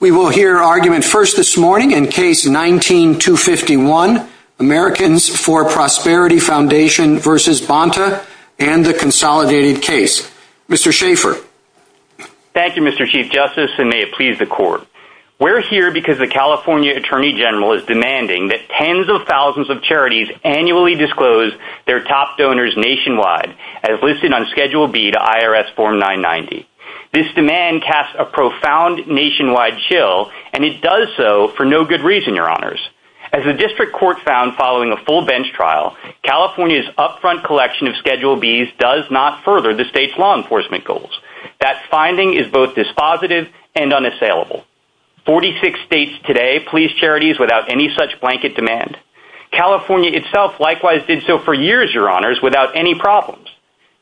We will hear argument first this morning in case 19-251, Americans for Prosperity Foundation v. Bonta and the Consolidated Case. Mr. Schaffer. Thank you, Mr. Chief Justice, and may it please the Court. We're here because the California Attorney General is demanding that tens of thousands of charities annually disclose their top donors nationwide, as listed on Schedule B to IRS Form 990. This demand casts a profound nationwide chill, and it does so for no good reason, Your Honors. As the District Court found following a full bench trial, California's upfront collection of Schedule Bs does not further the state's law enforcement goals. That finding is both dispositive and unassailable. Forty-six states today please charities without any such blanket demand. California itself likewise did so for years, Your Honors, without any problems.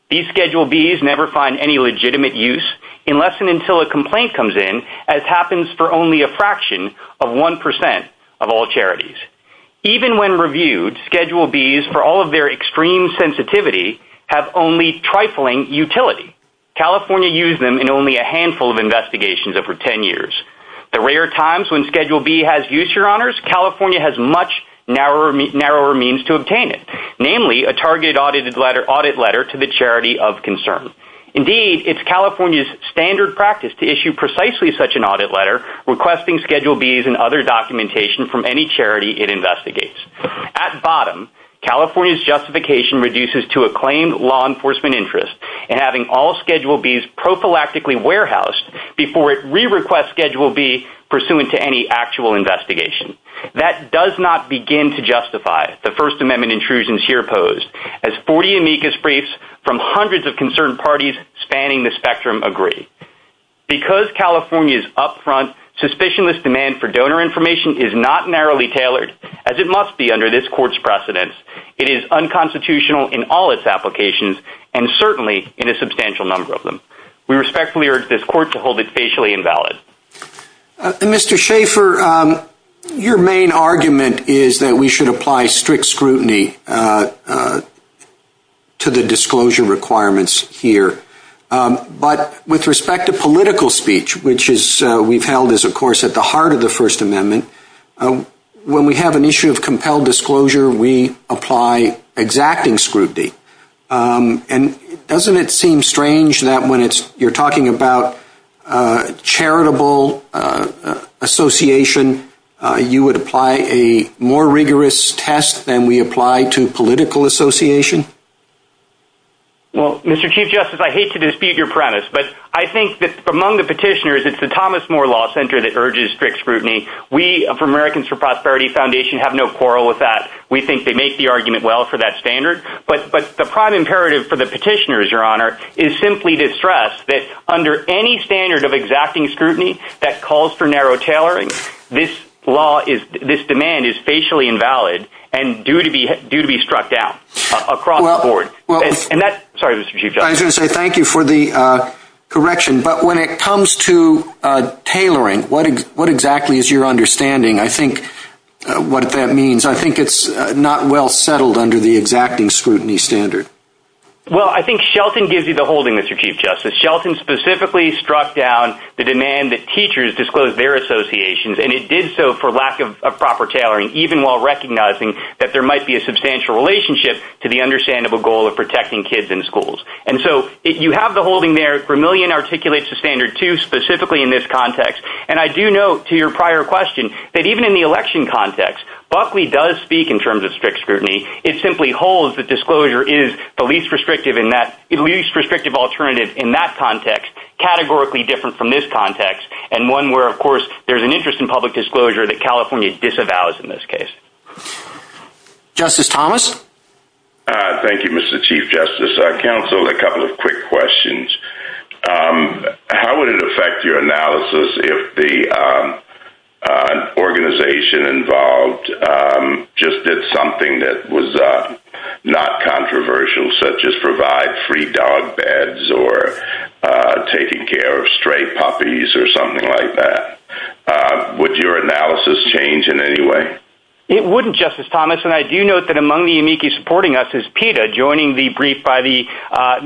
These Schedule Bs never find any legitimate use, unless and until a complaint comes in, as happens for only a fraction of 1% of all charities. Even when reviewed, Schedule Bs, for all of their extreme sensitivity, have only trifling utility. California used them in only a handful of investigations over ten years. The rare times when Schedule B has use, Your Honors, California has much narrower means to obtain it. Namely, a targeted audit letter to the charity of concern. Indeed, it's California's standard practice to issue precisely such an audit letter, requesting Schedule Bs and other documentation from any charity it investigates. At bottom, California's justification reduces to a claimed law enforcement interest in having all Schedule Bs prophylactically warehoused before it re-requests Schedule B pursuant to any actual investigation. That does not begin to justify the First Amendment intrusions here posed, as 40 amicus briefs from hundreds of concerned parties spanning the spectrum agree. Because California is up front, suspicionless demand for donor information is not narrowly tailored, as it must be under this court's precedence. It is unconstitutional in all its applications, and certainly in a substantial number of them. We respectfully urge this court to hold it facially invalid. Mr. Schaefer, your main argument is that we should apply strict scrutiny to the disclosure requirements here. But with respect to political speech, which we've held is, of course, at the heart of the First Amendment, when we have an issue of compelled disclosure, we apply exacting scrutiny. And doesn't it seem strange that when you're talking about charitable association, you would apply a more rigorous test than we apply to political association? Well, Mr. Chief Justice, I hate to dispute your premise, but I think that among the petitioners, it's the Thomas More Law Center that urges strict scrutiny. We, from Americans for Prosperity Foundation, have no quarrel with that. We think they make the argument well for that standard. But the prime imperative for the petitioners, Your Honor, is simply to stress that under any standard of exacting scrutiny that calls for narrow tailoring, this demand is facially invalid and due to be struck down. Across the board. Sorry, Mr. Chief Justice. I was going to say thank you for the correction. But when it comes to tailoring, what exactly is your understanding? I think what that means, I think it's not well settled under the exacting scrutiny standard. Well, I think Shelton gives you the holding, Mr. Chief Justice. Shelton specifically struck down the demand that teachers disclose their associations, and it did so for lack of proper tailoring, even while recognizing that there might be a substantial relationship to the understandable goal of protecting kids in schools. And so, you have the holding there, Vermillion articulates the standard too, specifically in this context. And I do note to your prior question that even in the election context, Buckley does speak in terms of strict scrutiny. It simply holds that disclosure is the least restrictive alternative in that context, categorically different from this context, and one where, of course, there's an interest in public disclosure that California disavows in this case. Justice Thomas? Thank you, Mr. Chief Justice. Counsel, a couple of quick questions. How would it affect your analysis if the organization involved just did something that was not controversial, such as provide free dog beds or taking care of stray puppies or something like that? Would your analysis change in any way? It wouldn't, Justice Thomas, and I do note that among the amici supporting us is PETA, joining the brief by the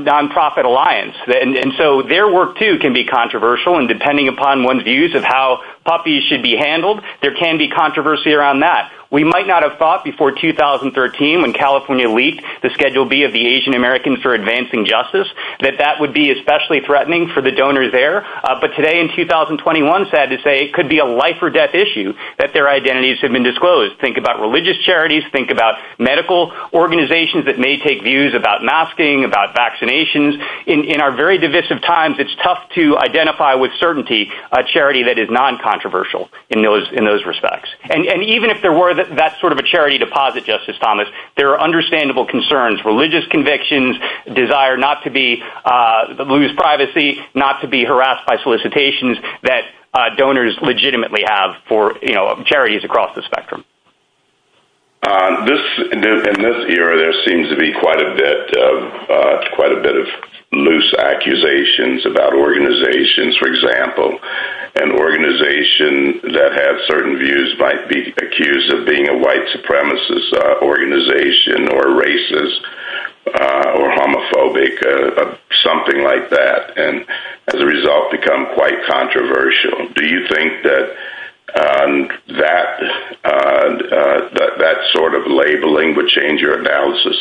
nonprofit alliance. And so, their work too can be controversial, and depending upon one's views of how puppies should be handled, there can be controversy around that. We might not have thought before 2013, when California leaked the Schedule B of the Asian Americans for Advancing Justice, that that would be especially threatening for the donors there. But today, in 2021, it's sad to say it could be a life or death issue that their identities have been disclosed. Think about religious charities. Think about medical organizations that may take views about masking, about vaccinations. In our very divisive times, it's tough to identify with certainty a charity that is non-controversial in those respects. And even if there were that sort of a charity deposit, Justice Thomas, there are understandable concerns. Religious convictions desire not to lose privacy, not to be harassed by solicitations that donors legitimately have for charities across the spectrum. In this era, there seems to be quite a bit of loose accusations about organizations. For example, an organization that had certain views might be accused of being a white supremacist organization, or racist, or homophobic, or something like that, and as a result become quite controversial. Do you think that that sort of labeling would change your analysis?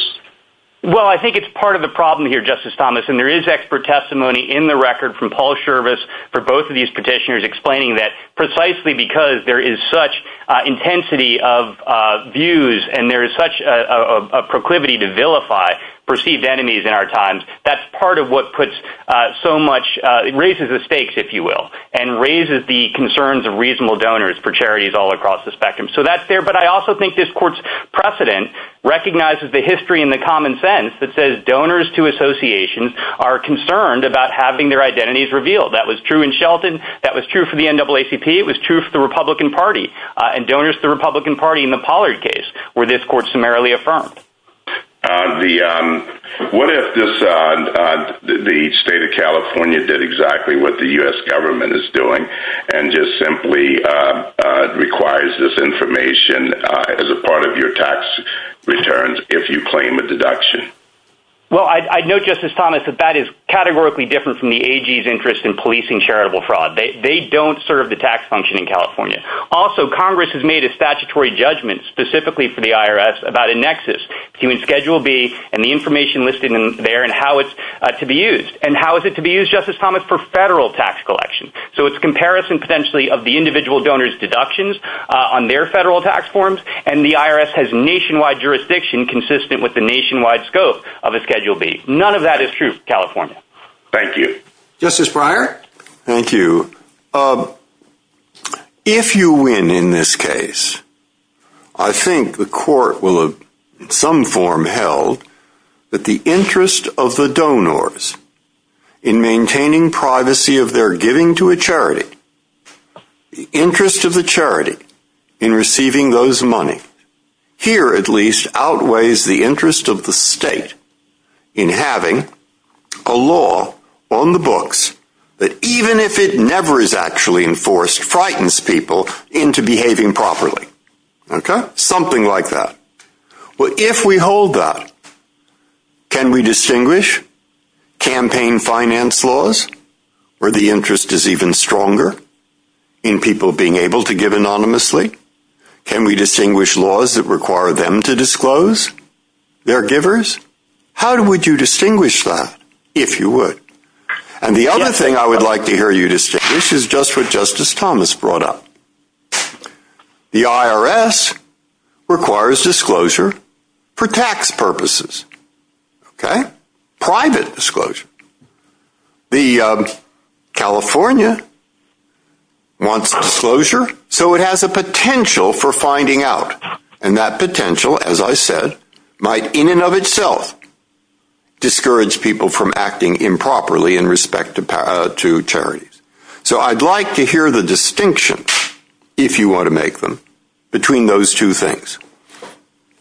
Well, I think it's part of the problem here, Justice Thomas. And there is expert testimony in the record from Paul Schirvis for both of these petitioners explaining that precisely because there is such intensity of views and there is such a proclivity to vilify perceived enemies in our times, that's part of what puts so much— it raises the stakes, if you will, and raises the concerns of reasonable donors for charities all across the spectrum. So that's there, but I also think this Court's precedent recognizes the history and the common sense that says donors to associations are concerned about having their identities revealed. That was true in Shelton, that was true for the NAACP, it was true for the Republican Party, and donors to the Republican Party in the Pollard case were, this Court summarily affirmed. What if the state of California did exactly what the U.S. government is doing and just simply requires this information as a part of your tax returns if you claim a deduction? Well, I'd note, Justice Thomas, that that is categorically different from the AG's interest in policing charitable fraud. They don't serve the tax function in California. Also, Congress has made a statutory judgment specifically for the IRS about a nexus between Schedule B and the information listed there and how it's to be used. And how is it to be used, Justice Thomas, for federal tax collection? So it's a comparison potentially of the individual donors' deductions on their federal tax forms, and the IRS has nationwide jurisdiction consistent with the nationwide scope of a Schedule B. None of that is true in California. Thank you. Justice Breyer? Thank you. If you win in this case, I think the Court will have in some form held that the interest of the donors in maintaining privacy of their giving to a charity, the interest of the charity in receiving those money, here at least, outweighs the interest of the state in having a law on the books that even if it never is actually enforced, frightens people into behaving properly. Okay? Something like that. Well, if we hold that, can we distinguish campaign finance laws where the interest is even stronger in people being able to give anonymously? Can we distinguish laws that require them to disclose their givers? How would you distinguish that if you would? And the other thing I would like to hear you distinguish is just what Justice Thomas brought up. The IRS requires disclosure for tax purposes. Okay? Private disclosure. The California wants disclosure, so it has a potential for finding out. And that potential, as I said, might in and of itself discourage people from acting improperly in respect to charities. So I'd like to hear the distinction, if you want to make them, between those two things.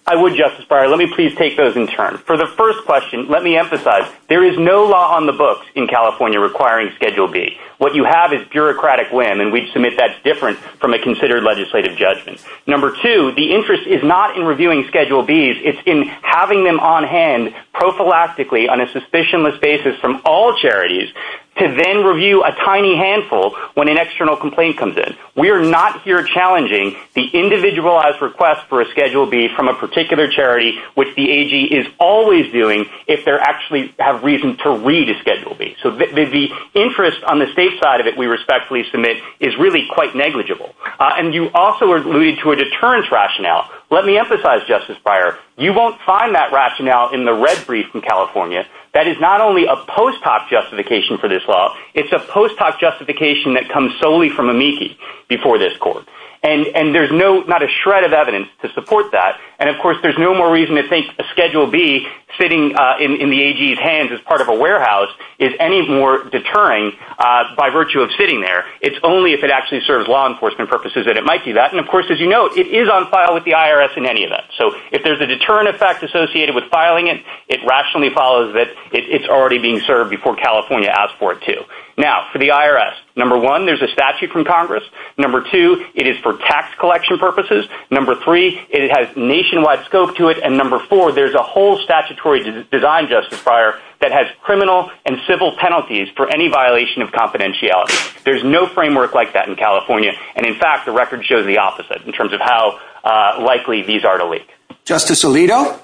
I would, Justice Breyer. Let me please take those in turn. For the first question, let me emphasize, there is no law on the books in California requiring Schedule B. What you have is bureaucratic win, and we submit that's different from a considered legislative judgment. Number two, the interest is not in reviewing Schedule Bs. It's in having them on hand prophylactically on a suspicionless basis from all charities to then review a tiny handful when an external complaint comes in. We are not here challenging the individualized request for a Schedule B from a particular charity, which the AG is always doing, if they actually have reason to read a Schedule B. So the interest on the state side of it, we respectfully submit, is really quite negligible. And you also alluded to a deterrence rationale. Let me emphasize, Justice Breyer, you won't find that rationale in the red brief from California. That is not only a post hoc justification for this law. It's a post hoc justification that comes solely from amici before this court. And there's not a shred of evidence to support that. And of course, there's no more reason to think a Schedule B sitting in the AG's hands as part of a warehouse is any more deterring by virtue of sitting there. It's only if it actually serves law enforcement purposes that it might do that. And of course, as you note, it is on file with the IRS in any event. So if there's a deterrent effect associated with filing it, it rationally follows that it's already being served before California asked for it to. Now, for the IRS, number one, there's a statute from Congress. Number two, it is for tax collection purposes. Number three, it has nationwide scope to it. And number four, there's a whole statutory design, Justice Breyer, that has criminal and civil penalties for any violation of confidentiality. There's no framework like that in California. And in fact, the record shows the opposite in terms of how likely these are to leak. Justice Alito?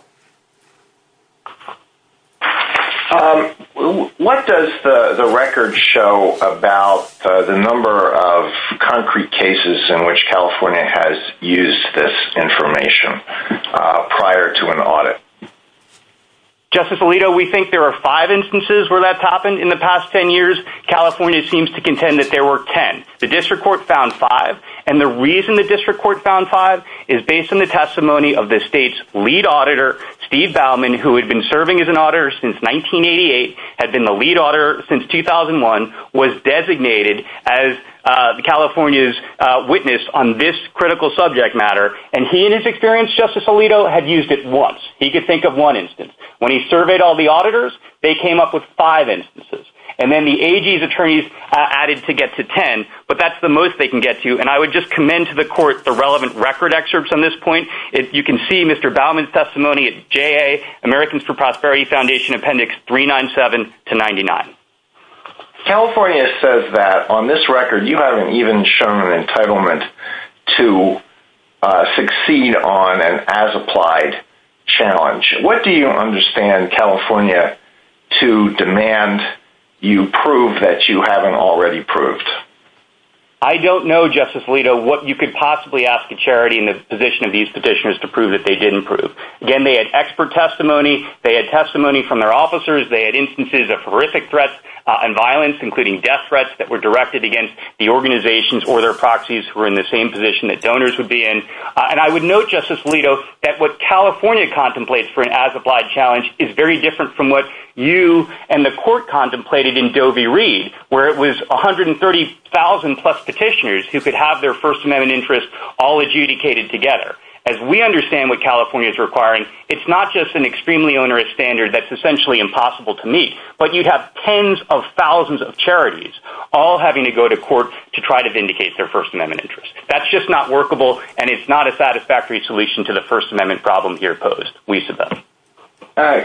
What does the record show about the number of concrete cases in which California has used this information prior to an audit? Justice Alito, we think there are five instances where that's happened in the past ten years. California seems to contend that there were ten. The district court found five. And the reason the district court found five is based on the testimony of the state's lead auditor, Steve Bauman, who had been serving as an auditor since 1988, had been the lead auditor since 2001, was designated as California's witness on this critical subject matter. And he, in his experience, Justice Alito, had used it once. He could think of one instance. When he surveyed all the auditors, they came up with five instances. And then the AG's attorneys added to get to ten. But that's the most they can get to. And I would just commend to the court the relevant record excerpts on this point. You can see Mr. Bauman's testimony. It's JA, Americans for Prosperity Foundation, Appendix 397 to 99. California says that on this record, you haven't even shown an entitlement to succeed on an as-applied challenge. What do you understand California to demand you prove that you haven't already proved? I don't know, Justice Alito, what you could possibly ask a charity in the position of these petitioners to prove that they didn't prove. Again, they had expert testimony. They had testimony from their officers. They had instances of horrific threats and violence, including death threats, that were directed against the organizations or their proxies who were in the same position that donors would be in. And I would note, Justice Alito, that what California contemplates for an as-applied challenge is very different from what you and the court contemplated in Doe v. Reed, where it was 130,000-plus petitioners who could have their First Amendment interests all adjudicated together. As we understand what California is requiring, it's not just an extremely onerous standard that's essentially impossible to meet, but you'd have tens of thousands of charities all having to go to court to try to vindicate their First Amendment interests. That's just not workable, and it's not a satisfactory solution to the First Amendment problem here posed vis-a-vis.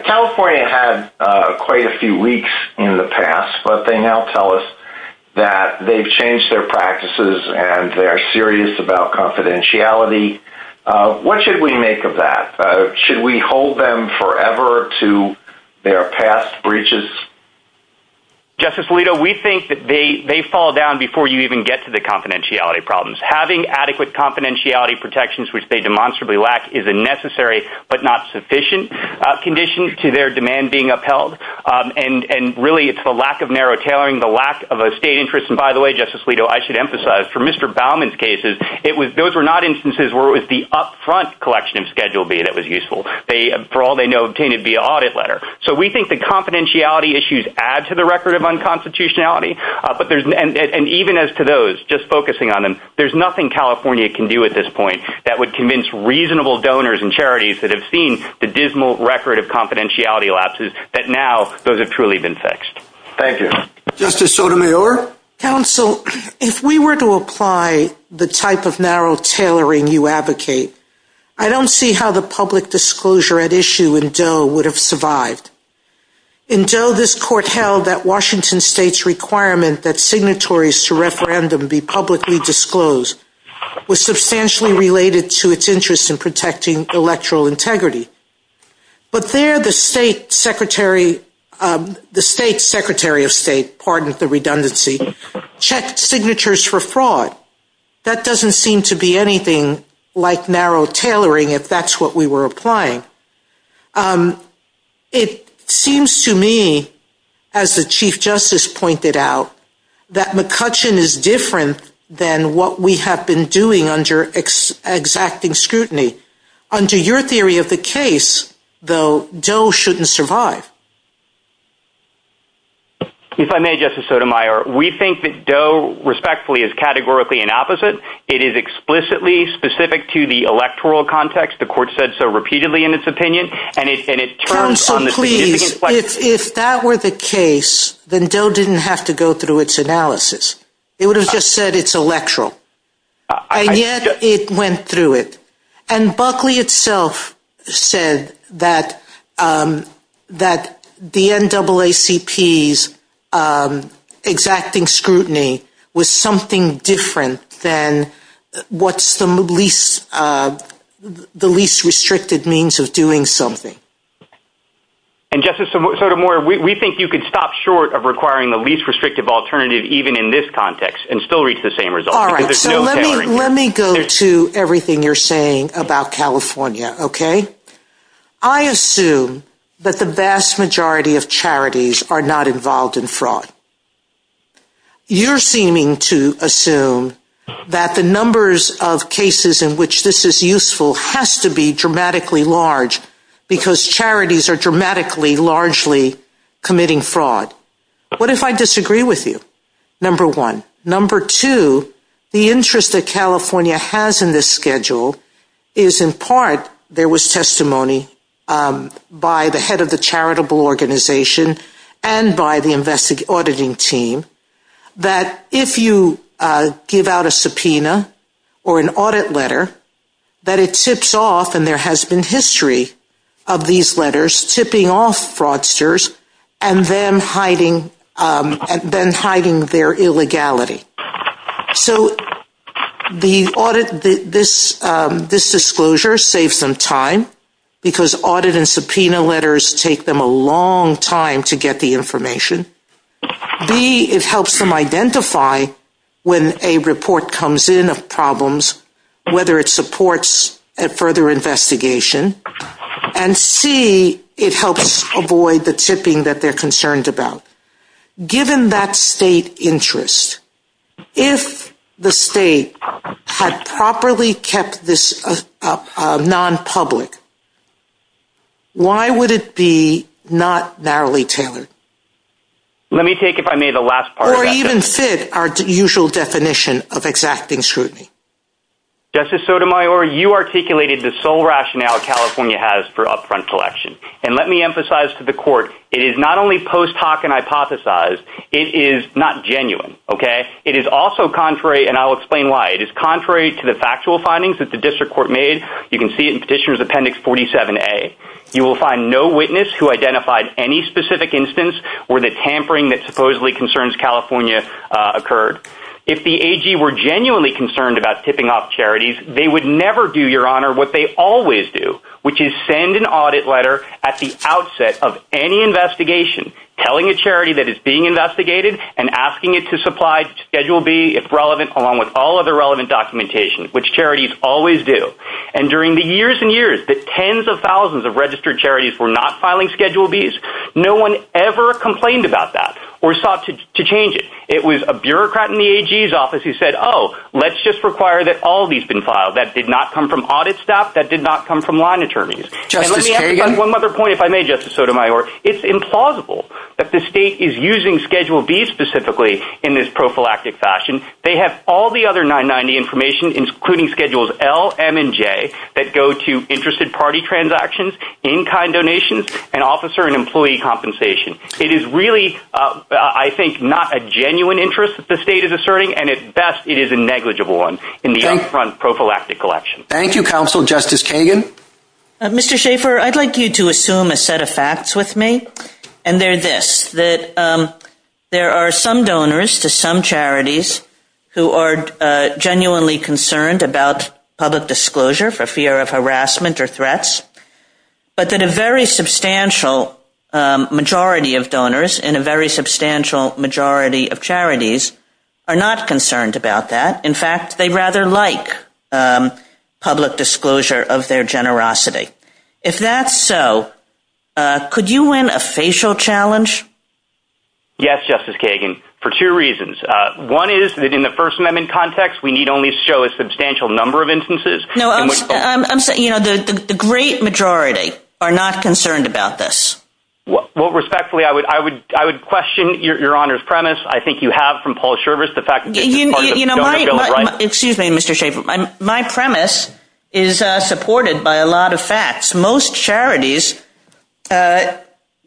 California had quite a few leaks in the past, but they now tell us that they've changed their practices, and they're serious about confidentiality. What should we make of that? Should we hold them forever to their past breaches? Justice Alito, we think that they fall down before you even get to the confidentiality problems. Having adequate confidentiality protections, which they demonstrably lack, is a necessary but not sufficient condition to their demand being upheld. Really, it's the lack of narrow tailoring, the lack of a state interest. By the way, Justice Alito, I should emphasize, for Mr. Baumann's cases, those were not instances where it was the up-front collection of Schedule B that was useful. For all they know, it came in via audit letter. We think that confidentiality issues add to the record of unconstitutionality. Even as to those, just focusing on them, there's nothing California can do at this point that would convince reasonable donors and charities that have seen the dismal record of confidentiality lapses that now those have truly been fixed. Thank you. Justice Sotomayor? Counsel, if we were to apply the type of narrow tailoring you advocate, I don't see how the public disclosure at issue in Doe would have survived. In Doe, this court held that Washington State's requirement that signatories to referendum be publicly disclosed was substantially related to its interest in protecting electoral integrity. But there, the State Secretary of State, pardon the redundancy, checked signatures for fraud. That doesn't seem to be anything like narrow tailoring if that's what we were applying. It seems to me, as the Chief Justice pointed out, that McCutcheon is different than what we have been doing under exacting scrutiny. Under your theory of the case, though, Doe shouldn't survive. If I may, Justice Sotomayor, we think that Doe, respectfully, is categorically an opposite. It is explicitly specific to the electoral context. The court said so repeatedly in its opinion. Counsel, please, if that were the case, then Doe didn't have to go through its analysis. It would have just said it's electoral. And yet, it went through it. And Buckley itself said that the NAACP's exacting scrutiny was something different than what's the least restricted means of doing something. And Justice Sotomayor, we think you could stop short of requiring the least restrictive alternative even in this context and still reach the same result. All right, so let me go to everything you're saying about California, okay? I assume that the vast majority of charities are not involved in fraud. You're seeming to assume that the numbers of cases in which this is useful has to be dramatically large because charities are dramatically largely committing fraud. What if I disagree with you? Number one. Number two, the interest that California has in this schedule is in part there was testimony by the head of the charitable organization and by the auditing team that if you give out a subpoena or an audit letter, that it tips off and there has been history of these letters tipping off fraudsters and then hiding their illegality. So this disclosure saves them time because audit and subpoena letters take them a long time to get the information. B, it helps them identify when a report comes in of problems, whether it supports a further investigation. And C, it helps avoid the tipping that they're concerned about. Given that state interest, if the state had properly kept this non-public, why would it be not narrowly tailored? Let me take, if I may, the last part of that. Or even fit our usual definition of exacting scrutiny. Justice Sotomayor, you articulated the sole rationale California has for upfront collection. And let me emphasize to the court, it is not only post hoc and hypothesized, it is not genuine. It is also contrary, and I'll explain why. It is contrary to the factual findings that the district court made. You can see it in Petitioner's Appendix 47A. You will find no witness who identified any specific instance where the tampering that supposedly concerns California occurred. If the AG were genuinely concerned about tipping off charities, they would never do, Your Honor, what they always do, which is send an audit letter at the outset of any investigation, telling a charity that it's being investigated, and asking it to supply Schedule B, if relevant, along with all other relevant documentation, which charities always do. And during the years and years that tens of thousands of registered charities were not filing Schedule Bs, no one ever complained about that or sought to change it. It was a bureaucrat in the AG's office who said, oh, let's just require that all of these be filed. That did not come from audit staff. That did not come from line attorneys. And let me add one other point, if I may, Justice Sotomayor. It's implausible that the state is using Schedule B specifically in this prophylactic fashion. They have all the other 990 information, including Schedules L, M, and J, that go to interested party transactions, in-kind donations, and officer and employee compensation. It is really, I think, not a genuine interest that the state is asserting, and at best, it is a negligible one in the up-front prophylactic collection. Thank you, Counsel. Justice Kagan? Mr. Schaffer, I'd like you to assume a set of facts with me, and they're this, that there are some donors to some charities who are genuinely concerned about public disclosure for fear of harassment or threats, but that a very substantial majority of donors and a very substantial majority of charities are not concerned about that. In fact, they'd rather like public disclosure of their generosity. If that's so, could you win a facial challenge? Yes, Justice Kagan, for two reasons. One is that in the First Amendment context, we need only show a substantial number of instances. No, I'm saying the great majority are not concerned about this. Well, respectfully, I would question your Honor's premise. I think you have, from Paul Shervis, the fact that... Excuse me, Mr. Schaffer. My premise is supported by a lot of facts. Most charities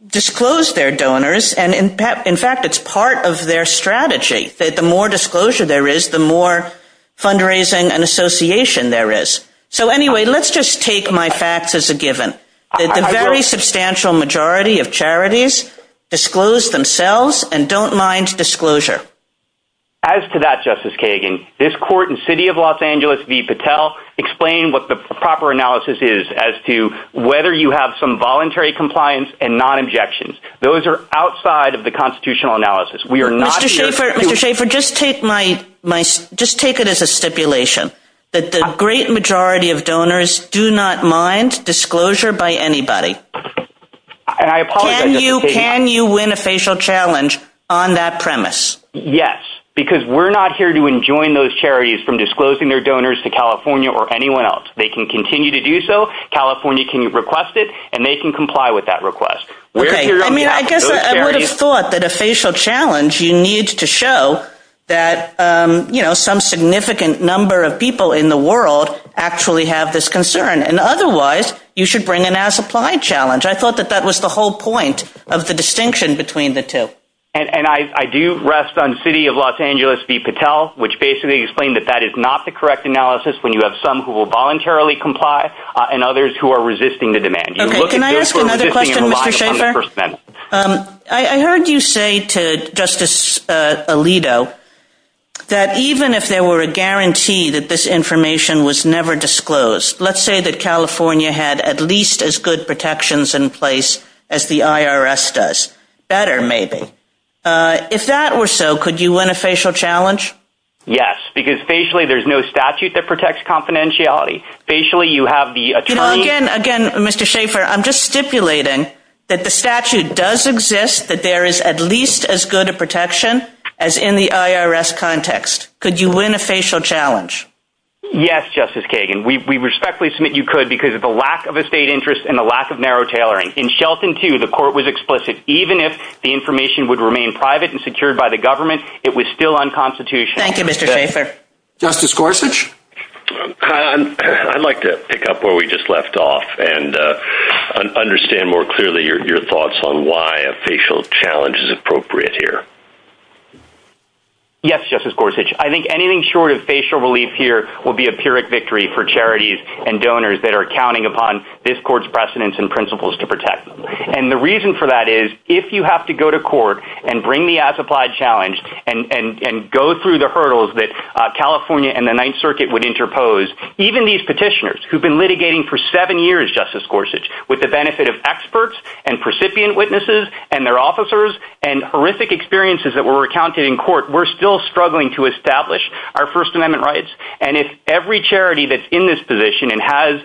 disclose their donors, and in fact, it's part of their strategy. The more disclosure there is, the more fundraising and association there is. So anyway, let's just take my facts as a given. The very substantial majority of charities disclose themselves and don't mind disclosure. As to that, Justice Kagan, this court in City of Los Angeles v. Patel explained what the proper analysis is as to whether you have some voluntary compliance and non-objections. Those are outside of the constitutional analysis. Mr. Schaffer, just take it as a stipulation that the great majority of donors do not mind disclosure by anybody. Can you win a facial challenge on that premise? Yes, because we're not here to enjoin those charities from disclosing their donors to California or anyone else. They can continue to do so. California can request it, and they can comply with that request. I mean, I guess I would have thought that a facial challenge, you need to show that some significant number of people in the world actually have this concern. And otherwise, you should bring in a supply challenge. I thought that that was the whole point of the distinction between the two. And I do rest on City of Los Angeles v. Patel, which basically explained that that is not the correct analysis when you have some who will voluntarily comply and others who are resisting the demand. Can I ask another question, Mr. Schaffer? I heard you say to Justice Alito that even if there were a guarantee that this information was never disclosed, let's say that California had at least as good protections in place as the IRS does, better maybe, if that were so, could you win a facial challenge? Yes, because facially, there's no statute that protects confidentiality. Facially, you have the attorney... Again, Mr. Schaffer, I'm just stipulating that the statute does exist that there is at least as good a protection as in the IRS context. Could you win a facial challenge? Yes, Justice Kagan. We respectfully submit you could because of the lack of a state interest and the lack of narrow tailoring. In Shelton 2, the court was explicit. Even if the information would remain private and secured by the government, it was still unconstitutional. Thank you, Mr. Schaffer. Justice Gorsuch? I'd like to pick up where we just left off and understand more clearly your thoughts on why a facial challenge is appropriate here. Yes, Justice Gorsuch. I think anything short of facial relief here will be a pyrrhic victory for charities and donors that are counting upon this court's precedents and principles to protect them. And the reason for that is if you have to go to court and bring the as-applied challenge and go through the hurdles that California and the Ninth Circuit would interpose, even these petitioners who've been litigating for seven years, Justice Gorsuch, with the benefit of experts and recipient witnesses and their officers and horrific experiences that were recounted in court, we're still struggling to establish our First Amendment rights. And if every charity that's in this position and has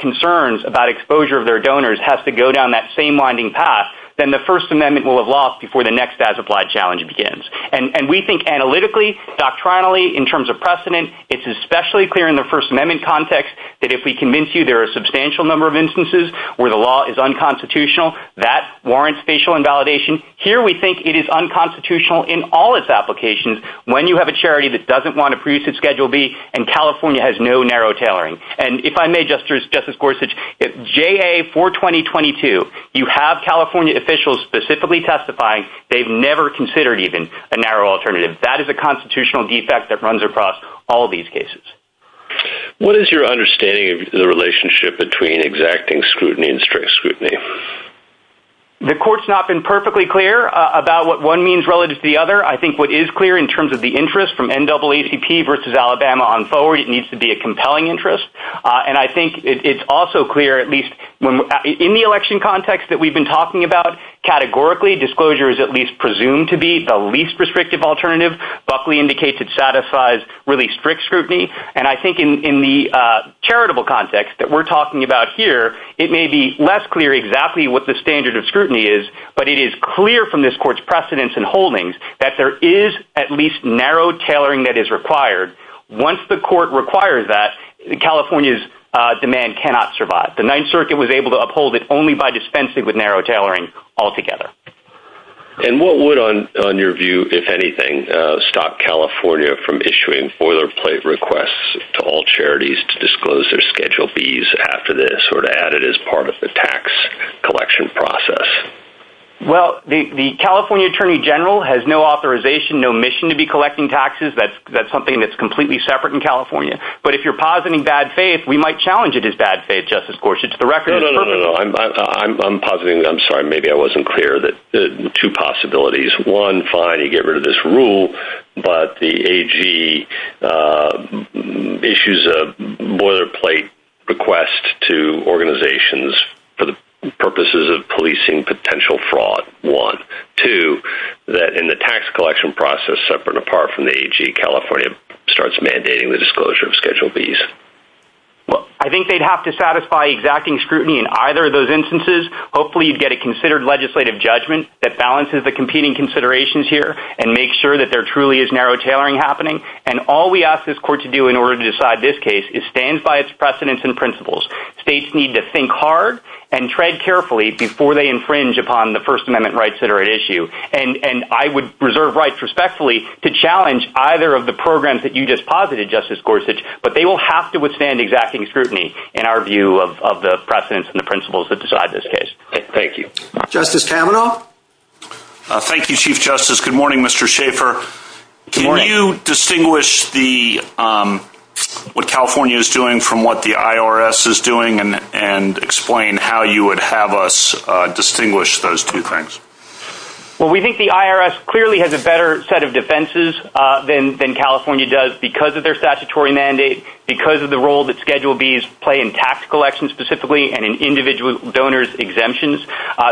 concerns about exposure of their donors has to go down that same winding path, then the First Amendment will have lost before the next as-applied challenge begins. And we think analytically, doctrinally, in terms of precedent, it's especially clear in the First Amendment context that if we convince you there are a substantial number of instances where the law is unconstitutional, that warrants facial invalidation. Here we think it is unconstitutional in all its applications when you have a charity that doesn't want to produce its Schedule B and California has no narrow tailoring. And if I may, Justice Gorsuch, JA 42022, you have California officials specifically testifying, they've never considered even a narrow alternative. That is a constitutional defect that runs across all these cases. What is your understanding of the relationship between exacting scrutiny and strict scrutiny? The Court's not been perfectly clear about what one means relative to the other. I think what is clear in terms of the interest from NAACP versus Alabama on forward, it needs to be a compelling interest. And I think it's also clear, at least in the election context that we've been talking about, categorically, disclosure is at least presumed to be the least restrictive alternative. Buckley indicates it satisfies really strict scrutiny. And I think in the charitable context that we're talking about here, it may be less clear exactly what the standard of scrutiny is, but it is clear from this Court's precedents and holdings that there is at least narrow tailoring that is required. Once the Court requires that, California's demand cannot survive. The Ninth Circuit was able to uphold it only by dispensing with narrow tailoring altogether. And what would on your view, if anything, stop California from issuing boilerplate requests to all charities to disclose their Schedule B's after this, or to add it as part of the tax collection process? Well, the California Attorney General has no authorization, no mission to be collecting taxes. That's something that's completely separate in California. But if you're positing bad faith, we might challenge it as bad faith, Justice Gorsuch. No, no, no, I'm positing, I'm sorry, maybe I wasn't clear that two possibilities. One, fine, you get rid of this rule, but the AG issues a boilerplate request to organizations for the purposes of policing potential fraud, one. Two, that in the tax collection process, separate and apart from the AG, California starts mandating the disclosure of Schedule B's. I think they'd have to satisfy exacting scrutiny in either of those instances. Hopefully you'd get a considered legislative judgment that balances the competing considerations here, and make sure that there truly is narrow tailoring happening. And all we ask this Court to do in order to decide this case is stand by its precedents and principles. States need to think hard and tread carefully before they infringe upon the First Amendment rights that are at issue. And I would reserve rights respectfully to challenge either of the programs that you just posited, Justice Gorsuch. But they will have to withstand exacting scrutiny in our view of the precedents and the principles that decide this case. Thank you. Justice Kavanaugh? Thank you, Chief Justice. Good morning, Mr. Schaffer. Can you distinguish what California is doing from what the IRS is doing and explain how you would have us distinguish those two things? Well, we think the IRS clearly has a better set of defenses than California does because of their statutory mandate, because of the role that Schedule B's play in tax collection specifically, and in individual donors' exemptions,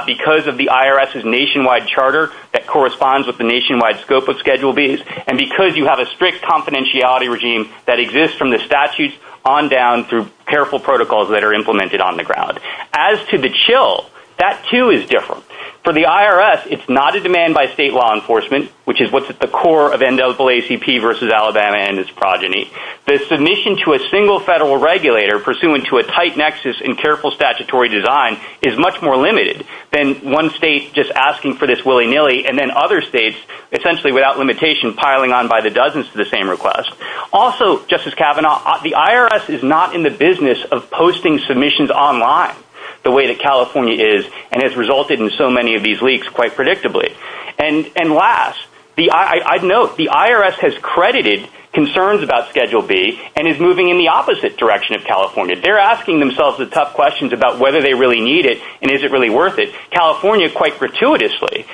because of the IRS's nationwide charter that corresponds with the nationwide scope of Schedule B's, and because you have a strict confidentiality regime that exists from the statutes on down through careful protocols that are implemented on the ground. As to the chill, that too is different. For the IRS, it's not a demand by state law enforcement, which is what's at the core of NAACP versus Alabama and its progeny. The submission to a single federal regulator pursuant to a tight nexus and careful statutory design is much more limited than one state just asking for this willy-nilly and then other states essentially without limitation piling on by the dozens to the same request. Also, Justice Kavanaugh, the IRS is not in the business of posting submissions online the way that California is and has resulted in so many of these leaks quite predictably. And last, I'd note the IRS has credited concerns about Schedule B and is moving in the opposite direction of California. They're asking themselves the tough questions about whether they really need it and is it really worth it. California, quite gratuitously,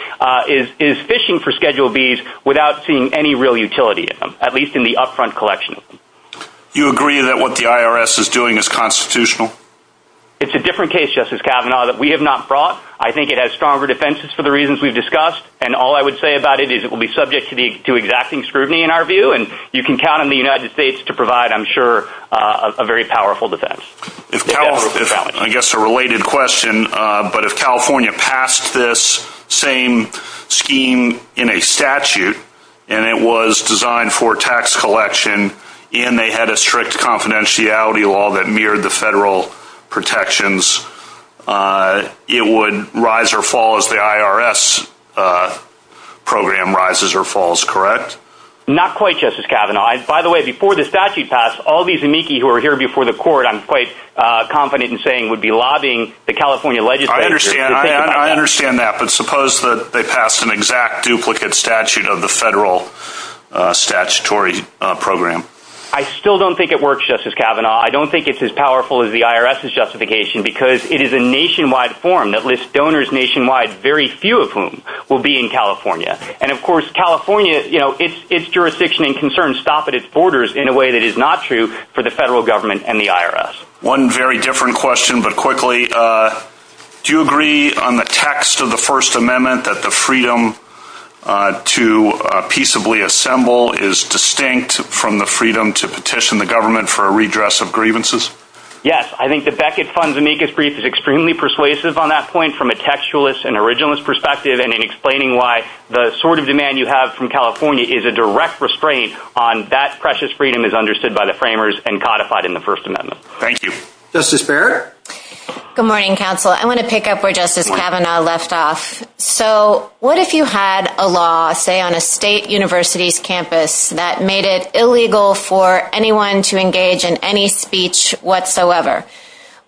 is fishing for Schedule B's without seeing any real utility in them, at least in the upfront collection. You agree that what the IRS is doing is constitutional? It's a different case, Justice Kavanaugh, that we have not brought. I think it will be subject to exacting scrutiny in our view. You can count on the United States to provide, I'm sure, a very powerful defense. I guess a related question, but if California passed this same scheme in a statute and it was designed for tax collection and they had a strict confidentiality law that mirrored the federal protections, it would rise or fall as the IRS program rises or falls, correct? Not quite, Justice Kavanaugh. By the way, before the statute passed, all these amici who were here before the court, I'm quite confident in saying, would be lobbying the California legislature. I understand that, but suppose that they passed an exact duplicate statute of the federal statutory program. I still don't think it works, Justice Kavanaugh. I don't think it's as powerful as the IRS's justification because it is a nationwide form that lists donors nationwide, very few of whom will be in California. And of course California, its jurisdiction and concerns stop at its borders in a way that is not true for the federal government and the IRS. One very different question, but quickly, do you agree on the text of the First Amendment that the freedom to peaceably assemble is distinct from the freedom to petition the government for a redress of grievances? Yes, I think the Beckett Fund's amicus brief is extremely persuasive on that point from a textualist and originalist perspective and in explaining why the sort of demand you have from California is a direct restraint on that precious freedom as understood by the framers and codified in the First Amendment. Thank you. Justice Barrett? Good morning, Counsel. I want to pick up where Justice Kavanaugh left off. So, what if you had a law, say on a state university's campus, that made it illegal for anyone to engage in any speech whatsoever,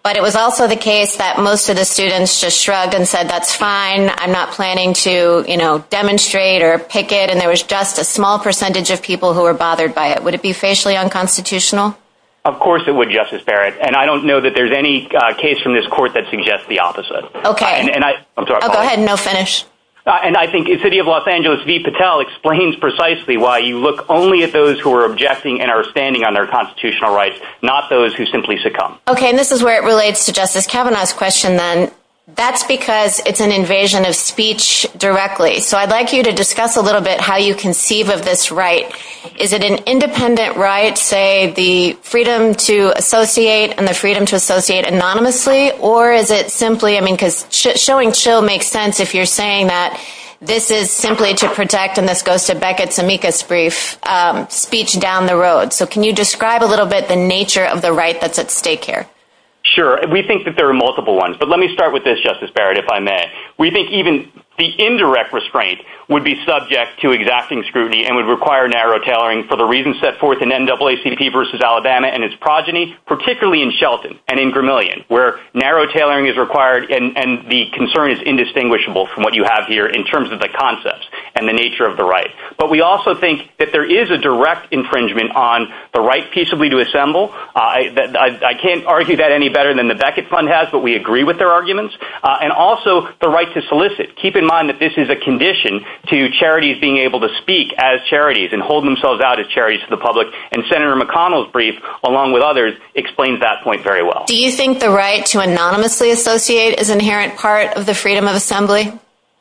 but it was also the case that most of the students just shrug and said, that's fine, I'm not planning to, you know, demonstrate or picket, and there was just a small percentage of people who were bothered by it. Would it be facially unconstitutional? Of course it would, Justice Barrett, and I don't know that there's any case from this court that suggests the opposite. Okay. I'm sorry. I'll go ahead and I'll finish. And I think the city of Los Angeles, V. Patel, explains precisely why you look only at those who are objecting and are standing on their constitutional rights, not those who simply succumb. Okay, and this is where it relates to Justice Kavanaugh's question, then. That's because it's an invasion of speech directly. So I'd like you to discuss a little bit how you conceive of this right. Is it an independent right, say, the freedom to associate and the freedom to associate anonymously, or is it simply I mean, because showing chill makes sense if you're saying that this is simply to protect, and this goes to Beckett and Tamika's brief, Speech Down the Road. So can you describe a little bit the nature of the right that's at stake here? Sure. We think that there are multiple ones, but let me start with this, Justice Barrett, if I may. We think even the indirect restraint would be subject to exacting scrutiny and would require narrow tailoring for the reasons set forth in NAACP versus Alabama and its progeny, particularly in Shelton and in Gramellion, where narrow tailoring is required and the concern is indistinguishable from what you have here in terms of the concepts and the nature of the right. But we also think that there is a direct infringement on the right peaceably to assemble. I can't argue that any better than the Beckett Fund has, but we agree with their arguments. And also the right to solicit. Keep in mind that this is a condition to charities being able to speak as charities and hold themselves out as charities to the public, and Senator McConnell's brief, along with others, explains to anonymously associate is an inherent part of the freedom of assembly?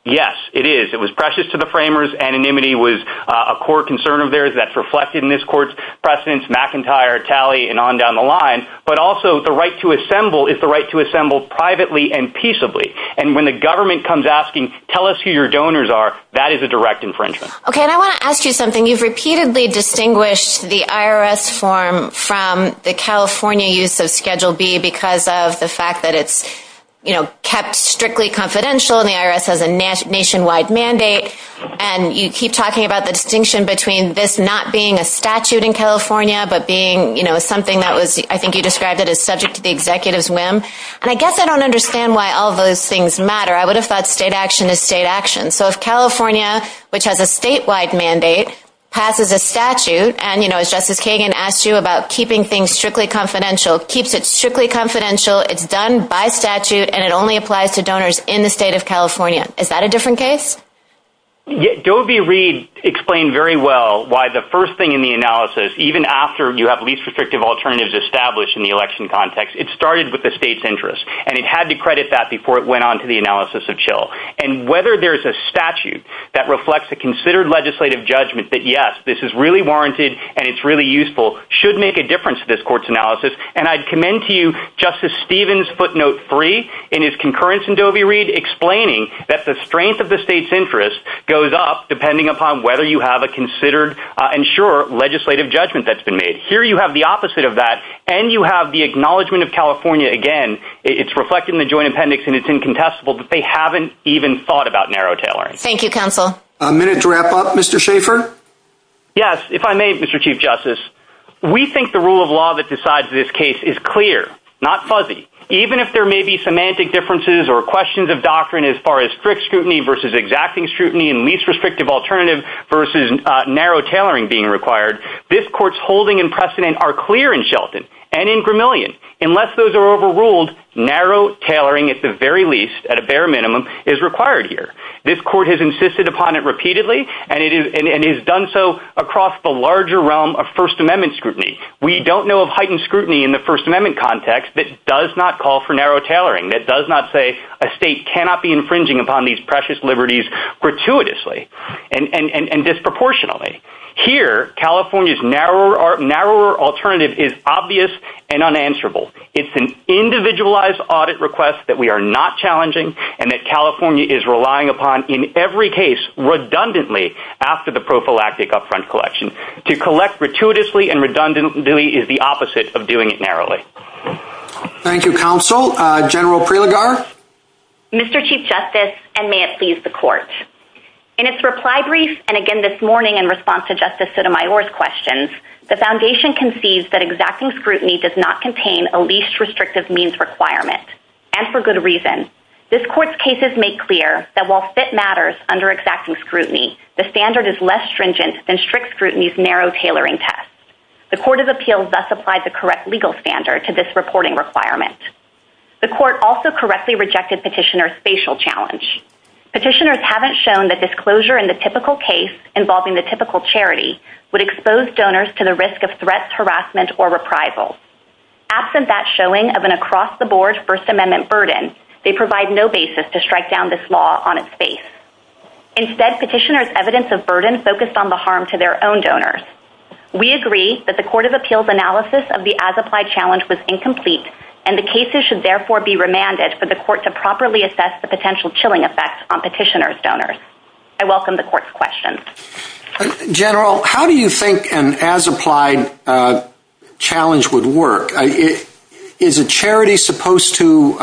Yes, it is. It was precious to the framers. Anonymity was a core concern of theirs that's reflected in this court's precedence, McIntyre, Talley, and on down the line. But also the right to assemble is the right to assemble privately and peaceably. And when the government comes asking, tell us who your donors are, that is a direct infringement. Okay, and I want to ask you something. You've repeatedly distinguished the IRS form from the California use of Schedule B because of the fact that it's, you know, kept strictly confidential, and the IRS has a nationwide mandate, and you keep talking about the distinction between this not being a statute in California, but being, you know, something that was, I think you described it as subject to the executive's whim. And I guess I don't understand why all those things matter. I would have thought state action is state action. So if California, which has a statewide mandate, passes a statute, and, you know, as Justice Kagan asked you about keeping things strictly confidential, keeps it strictly confidential, it's done by statute, and it only applies to donors in the state of California. Is that a different case? Dovie Reed explained very well why the first thing in the analysis, even after you have least restrictive alternatives established in the election context, it started with the state's interest. And it had to credit that before it went on to the analysis of CHIL. And whether there's a statute that reflects a considered legislative judgment that, yes, this is really warranted, and it's really useful, should make a difference to this court's analysis. And I commend to you Justice Stephen's footnote 3 in his concurrence in Dovie Reed explaining that the strength of the state's interest goes up depending upon whether you have a considered and sure legislative judgment that's been made. Here you have the opposite of that, and you have the acknowledgement of California again. It's reflected in the joint appendix, and it's incontestable that they haven't even thought about narrow tailoring. Thank you, counsel. A minute to wrap up. Mr. Schaefer? Yes. If I may, Mr. Chief Justice. We think the rule of law that decides this case is clear, not fuzzy. Even if there may be semantic differences or questions of doctrine as far as strict scrutiny versus exacting scrutiny and least restrictive alternatives versus narrow tailoring being required, this court's holding and precedent are clear in Shelton and in Gramellion. Unless those are overruled, narrow tailoring at the very least, at a bare minimum, is required here. This court has insisted upon it repeatedly and has done so across the larger realm of First Amendment scrutiny. We don't know of heightened scrutiny in the First Amendment context that does not call for narrow tailoring, that does not say a state cannot be infringing upon these precious liberties gratuitously and disproportionately. Here, California's narrower alternative is obvious and unanswerable. It's an individualized audit request that we are not challenging and that California is relying upon in every case redundantly after the prophylactic upfront collection. To collect gratuitously and redundantly is the opposite of doing it narrowly. Thank you, Counsel. General Prilegar? Mr. Chief Justice, and may it please the Court. In its reply brief and again this morning in response to Justice Sotomayor's questions, the Foundation concedes that exacting scrutiny does not contain a least restrictive means requirement and for good reason. This Court's cases make clear that while it matters under exacting scrutiny, the standard is less stringent than strict scrutiny's narrow tailoring test. The Court of Appeals thus applied the correct legal standard to this reporting requirement. The Court also correctly rejected Petitioner's spatial challenge. Petitioners haven't shown that disclosure in the typical case involving the typical charity would expose donors to the risk of threats, harassment or reprisal. Absent that showing of an across-the-board First Amendment burden, they provide no basis to strike down this law on its face. Instead, Petitioner's evidence of burden focused on the harm to their own donors. We agree that the Court of Appeals analysis of the as-applied challenge was incomplete and the cases should therefore be remanded for the Court to properly assess the potential chilling effects on Petitioner's donors. I welcome the Court's questions. General, how do you think an as-applied challenge would work? Is a charity supposed to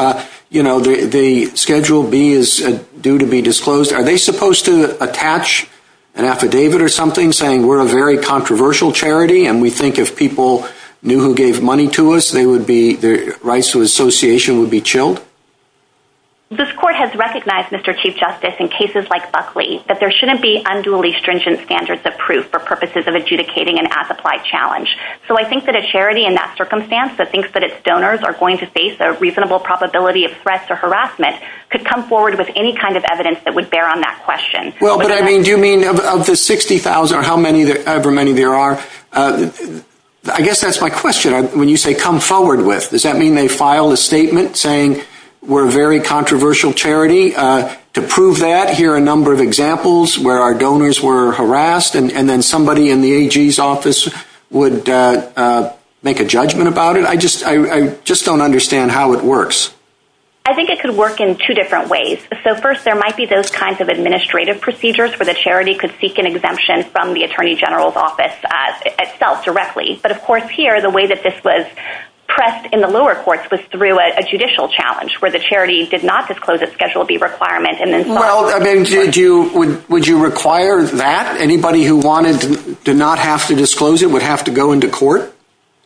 you know, the Schedule B is due to be disclosed. Are they supposed to attach an affidavit or something saying we're a very controversial charity and we think if people knew who gave money to us their rights to association would be chilled? This Court has recognized, Mr. Chief Justice, in cases like Buckley, that there shouldn't be unduly stringent standards of proof for purposes of adjudicating an as-applied challenge. So I think that a charity in that circumstance that thinks that its donors are going to face a reasonable probability of threat to harassment could come forward with any kind of evidence that would bear on that question. Well, but I mean, do you mean of the 60,000 or however many there are? I guess that's my question. When you say come forward with, does that mean they file a statement saying we're a very controversial charity? To prove that, here are a number of examples where our donors were harassed and then somebody in the AG's office would make a judgment about it? I just don't understand how it works. I think it could work in two different ways. So first, there might be those kinds of administrative procedures where the charity could seek an exemption from the Attorney General's office itself, directly. But of course here, the way that this was pressed in the lower courts was through a judicial challenge where the charity did not disclose its Schedule B requirement. Well, I mean, would you require that? Anybody who wanted to not have to disclose it would have to go into court?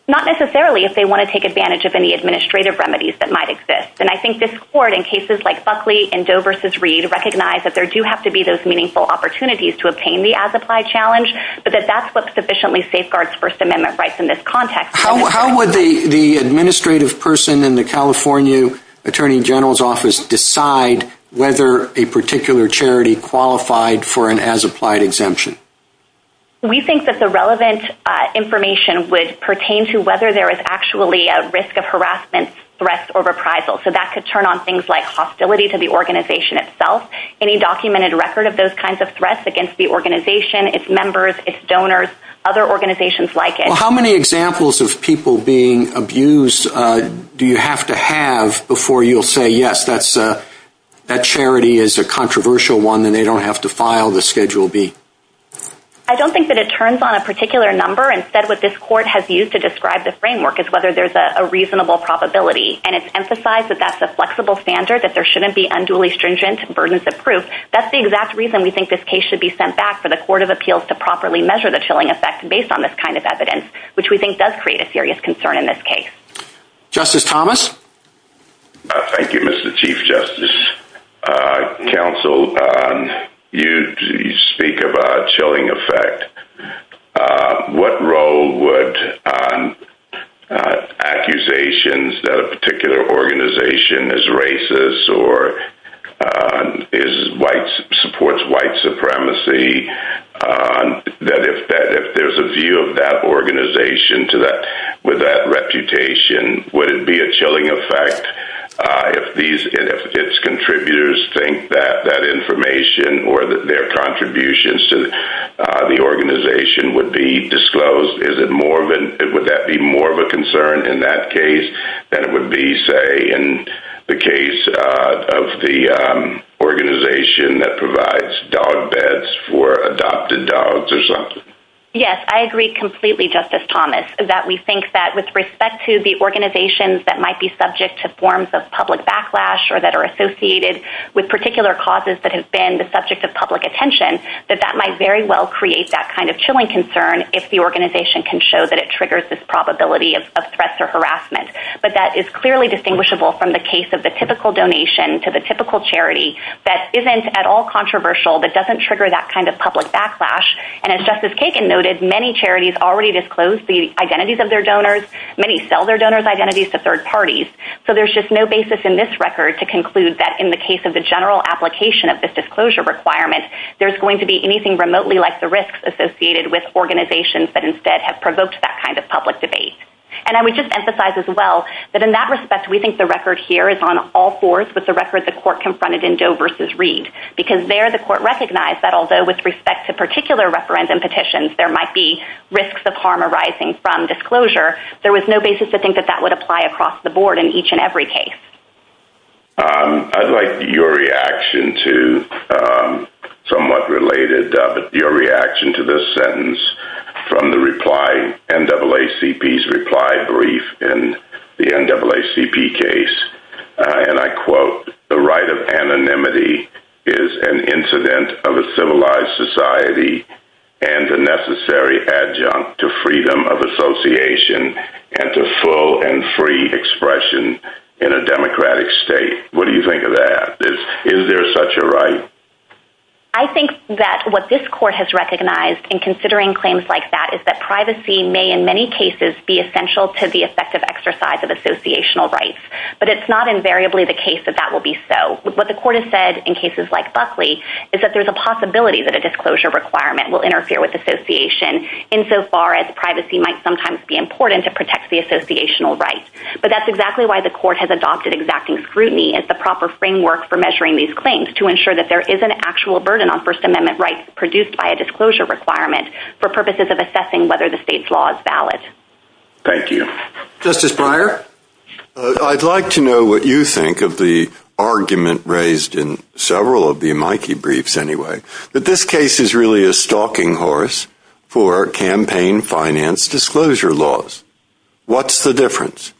Not necessarily if they want to take advantage of any administrative remedies that might exist. And I think this court, in cases like Buckley and Doe vs. Reed, recognize that there do have to be those meaningful opportunities to obtain the as-applied challenge, but that that's what sufficiently safeguards First Amendment rights in this context. How would the administrative person in the California Attorney General's office decide whether a particular charity qualified for an as-applied exemption? We think that the relevant information would pertain to whether there is actually a risk of harassment, threat, or reprisal. So that could turn on things like hostility to the organization itself, any documented record of those kinds of threats against the organization, its members, its donors, other organizations like it. How many examples of people being abused do you have to have before you'll say, yes, that charity is a controversial one and they don't have to file a complaint? What would the schedule be? I don't think that it turns on a particular number. Instead, what this court has used to describe the framework is whether there's a reasonable probability, and it's emphasized that that's a flexible standard, that there shouldn't be unduly stringent burdens of proof. That's the exact reason we think this case should be sent back for the Court of Appeals to properly measure the chilling effect based on this kind of evidence, which we think does create a serious concern in this case. Justice Thomas? Thank you, Mr. Chief Justice. Counsel, you speak of a chilling effect. What role would accusations that a particular organization is racist or supports white supremacy that if there's a view of that organization with that reputation, would it be a chilling effect if its contributors think that information or their contributions to the organization would be disclosed? Would that be more of a concern in that case than it would be, say, in the case of the organization that provides dog beds for adopted dogs or something? Yes. I agree completely, Justice Thomas, that we think that with respect to the forms of public backlash or that are associated with particular causes that have been the subject of public attention, that that might very well create that kind of chilling concern if the organization can show that it triggers this probability of threats or harassment. But that is clearly distinguishable from the case of the typical donation to the typical charity that isn't at all controversial but doesn't trigger that kind of public backlash. And as Justice Kagan noted, many charities already disclose the identities of their donors. Many sell their And there is no basis in this record to conclude that in the case of the general application of this disclosure requirement, there's going to be anything remotely like the risks associated with organizations that instead have provoked that kind of public debate. And I would just emphasize as well that in that respect, we think the record here is on all fours with the record the court confronted in Doe versus Reed. Because there, the court recognized that although with respect to particular referendum petitions, there might be risks of harm arising from disclosure, there was no basis to think that that would apply across the board in each and every case. I'd like your reaction to somewhat related, but your reaction to this sentence from the reply, NAACP's reply brief in the NAACP case. And I quote, the right of anonymity is an incident of a civilized society and a necessary adjunct to freedom of association and to full and free expression in a democratic state. What do you think of that? Is there such a right? I think that what this court has recognized in considering claims like that is that privacy may in many cases be essential to the effective exercise of associational rights. But it's not invariably the case that that will be so. What the court has said in cases like Buckley is that there's a possibility that a disclosure requirement will interfere with association insofar as privacy might sometimes be important to protect the associational rights. But that's exactly why the court has adopted exacting scrutiny as the proper framework for measuring these claims to ensure that there is an actual burden on First Amendment rights produced by a disclosure requirement for purposes of assessing whether the state's law is valid. Thank you. Justice Breyer? I'd like to know what you think of the argument raised in several of the Mikey briefs anyway. But this case is really a stalking horse for campaign finance disclosure laws. What's the difference?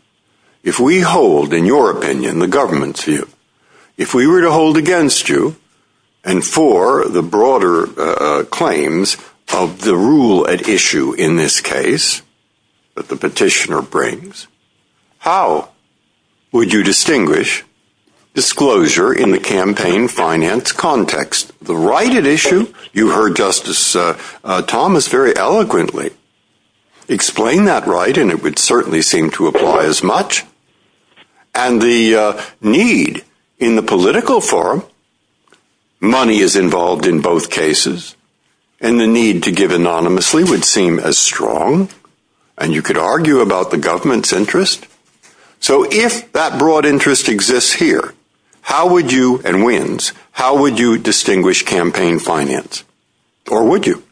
If we hold, in your opinion, the government's view, if we were to hold against you and for the broader claims of the rule that the petitioner brings, how would you distinguish disclosure in the campaign finance context? The right at issue, you heard Justice Thomas very eloquently explain that right and it would certainly seem to apply as much. And the need in the political forum, money is involved in both cases and the need to give anonymously would seem as strong and you could argue about the government's interest. So if that broad interest exists here, and wins, how would you distinguish campaign finance? Or would you?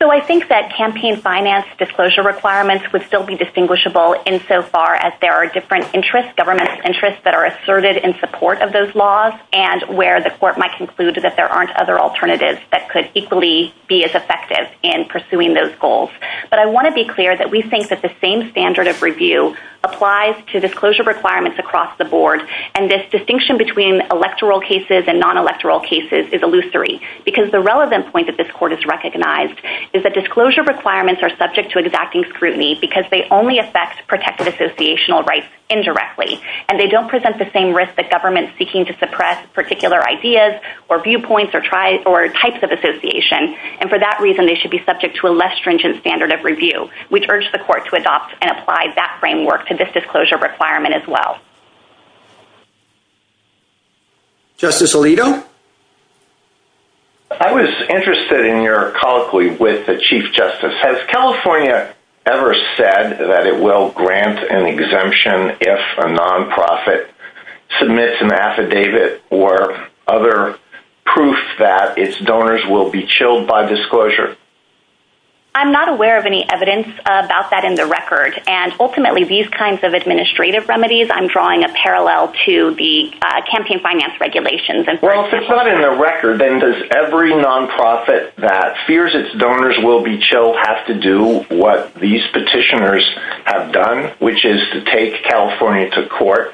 So I think that campaign finance disclosure requirements would still be distinguishable insofar as there are different interests, government interests that are asserted in support of those laws and where the court might conclude that there aren't other alternatives that could equally be as effective in pursuing those goals. But I want to be clear that we think that the same standard of review applies to disclosure requirements. And this distinction between electoral cases and non-electoral cases is illusory. Because the relevant point that this court has recognized is that disclosure requirements are subject to exacting scrutiny because they only affect protected associational rights indirectly. And they don't present the same risk that government seeking to suppress particular ideas or viewpoints or types of association. And for that reason, they should be subject to a less stringent standard of review, which urged the court to adopt and apply that framework to this disclosure requirement as well. Justice Alito? I was interested in your colloquy with the Chief Justice. Has California ever said that it will grant an exemption if a non-profit submits an affidavit or other proof that its donors will be chilled by disclosure? I'm not aware of any evidence about that in the record. And ultimately, these kinds of administrative remedies, I'm drawing a parallel to the campaign finance regulations. Well, if it's not in the record, then does every non-profit that fears its donors will be chilled have to do what these petitioners have done, which is to take California to court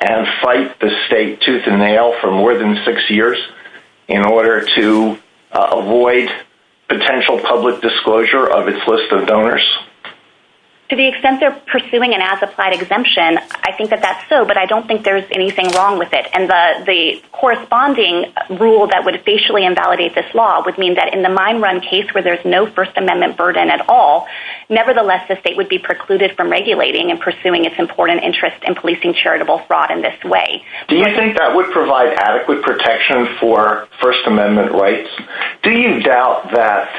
and fight the state tooth and nail for more than six years in order to avoid potential public disclosure of its list of donors? To the extent they're pursuing an as-applied exemption, I think that that's so, but I don't think there's anything wrong with it. And the corresponding rule that would facially invalidate this law would mean that in the mine run case where there's no First Amendment burden at all, nevertheless, the state would be precluded from regulating and pursuing its important interest in policing charitable fraud in this way. Do you think that would provide adequate protection for First Amendment rights? Do you doubt that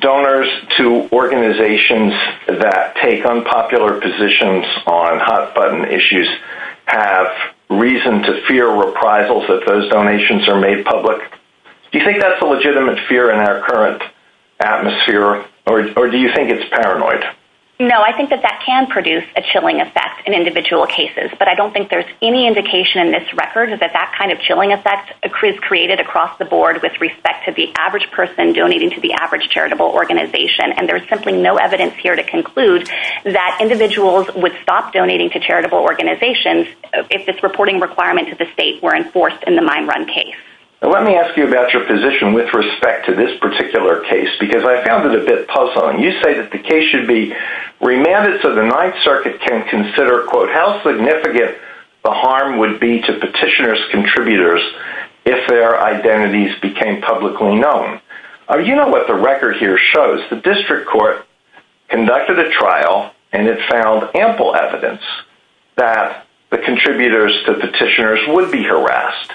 donors to organizations that take unpopular positions on hot-button issues have reason to fear reprisals if those donations are made public? Do you think that's a legitimate fear in our current atmosphere, or do you think it's paranoid? No, I think that that can produce a chilling effect in individual cases, but I don't think there's any indication in this record that that kind of chilling effect is created across the board with respect to the average charitable organization, and there's simply no evidence here to conclude that individuals would stop donating to charitable organizations if this reporting requirement to the state were enforced in the mine run case. Let me ask you about your position with respect to this particular case, because I found it a bit puzzling. You say that the case should be remanded so the Ninth Circuit can consider, quote, how significant the harm would be to petitioner's contributors if their identities became publicly known. You know what the record here shows. The district court conducted a trial, and it found ample evidence that the contributors to petitioners would be harassed.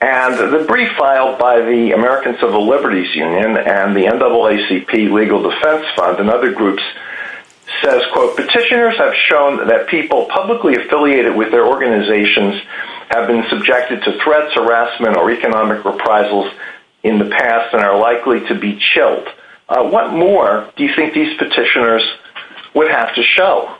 And the brief filed by the American Civil Liberties Union and the NAACP Legal Defense Fund and other groups says, quote, petitioners have shown that people publicly affiliated with their organizations have been subjected to threats, harassment, or economic reprisals in the past and are likely to be chilled. What more do you think these petitioners would have to show?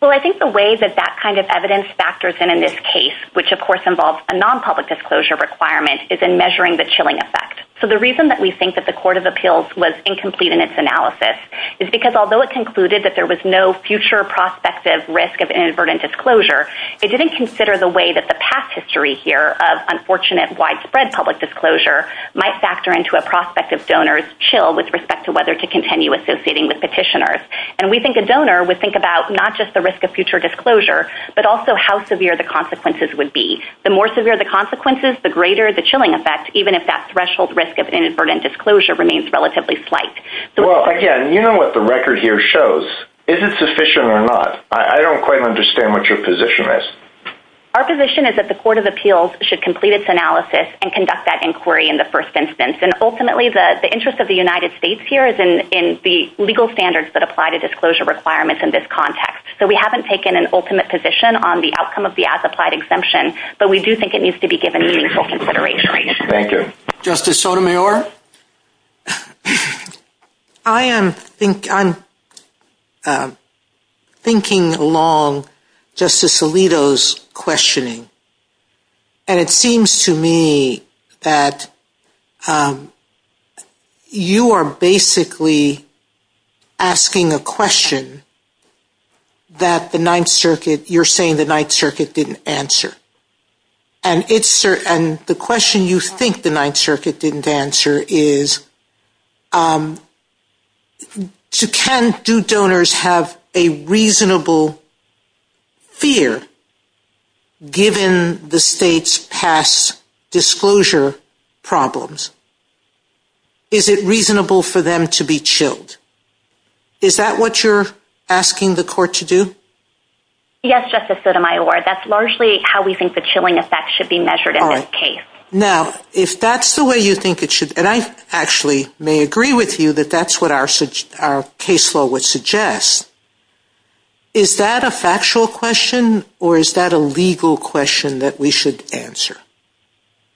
Well, I think the way that that kind of evidence factors in in this case, which of course involves a non-public disclosure requirement, is in measuring the chilling effect. So the reason that we think that the Court of Appeals was incomplete in its analysis is because although it concluded that there was no future prospective risk of inadvertent disclosure, it didn't consider the way that the past history here of unfortunate, widespread public disclosure might factor into a prospective donor's chill with respect to whether to continue associating with petitioners. And we think a donor would think about not just the risk of future disclosure, but also how severe the consequences would be. The more severe the consequences, the greater the chilling effect, even if that threshold risk of inadvertent disclosure remains relatively slight. Well, again, you know what the record here shows. Is it sufficient or not? I don't quite understand what your position is. Our position is that the Court of Appeals should complete its analysis and conduct that inquiry in the first instance. And ultimately the interest of the United States here is in the legal standards that apply to disclosure requirements in this context. So we haven't taken an ultimate position on the outcome of the as-applied exemption, but we do think it needs to be given meaningful consideration. Thank you. Justice Sotomayor? I am thinking along Justice Alito's questioning. And it seems to me that you are basically asking a question that you're saying the Ninth Circuit didn't answer. And the question you think the Ninth Circuit didn't answer is can due donors have a reasonable fear given the state's past disclosure problems? Is it reasonable for them to be chilled? Is that what you're asking the Court to do? Yes, Justice Sotomayor. That's largely how we think the chilling effect should be measured in this case. Now, if that's the way you think it should, and I actually may agree with you that that's what our case law would suggest, is that a factual question, or is that a legal question that we should answer?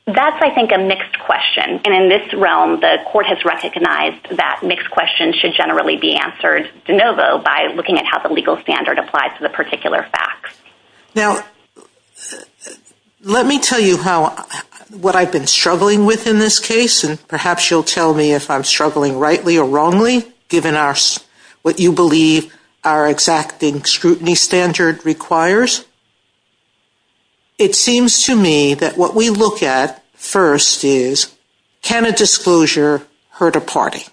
That's, I think, a mixed question. And in this realm, the Court has recognized that mixed questions should generally be answered de novo by looking at how the legal standard applies to the particular facts. Now, what I've been struggling with in this case, and perhaps you'll tell me if I'm struggling rightly or wrongly, given what you believe our exacting scrutiny standard requires, it seems to me that what we look at first is can a disclosure hurt a party?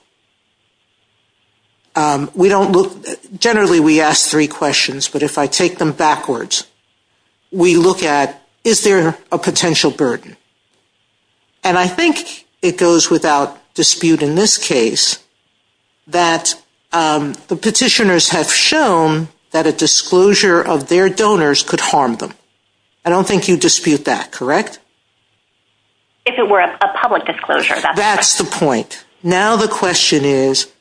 Generally, we ask three questions, but if I take them backwards, we look at, is there a potential burden? And I think it goes which is, and I think without dispute in this case, that the petitioners have shown that a disclosure of their donors could harm them. I don't think you dispute that, correct? If it were a public disclosure. That's the point. Now the question is,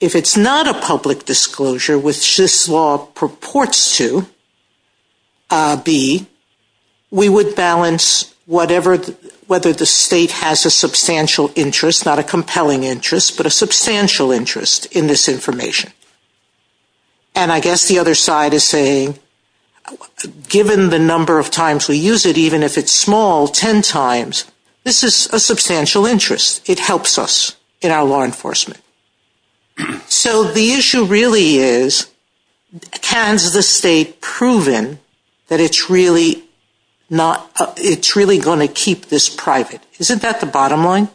if it's not a public disclosure, which this law purports to be, we would balance whether the state has a substantial interest, not a compelling interest, but a substantial interest in this information. And I guess the other side is saying given the number of times we use it, even if it's small, ten times, this is a substantial interest. It helps us in our law enforcement. So the issue really is has the state proven that it's really going to keep this private? Isn't that the bottom line?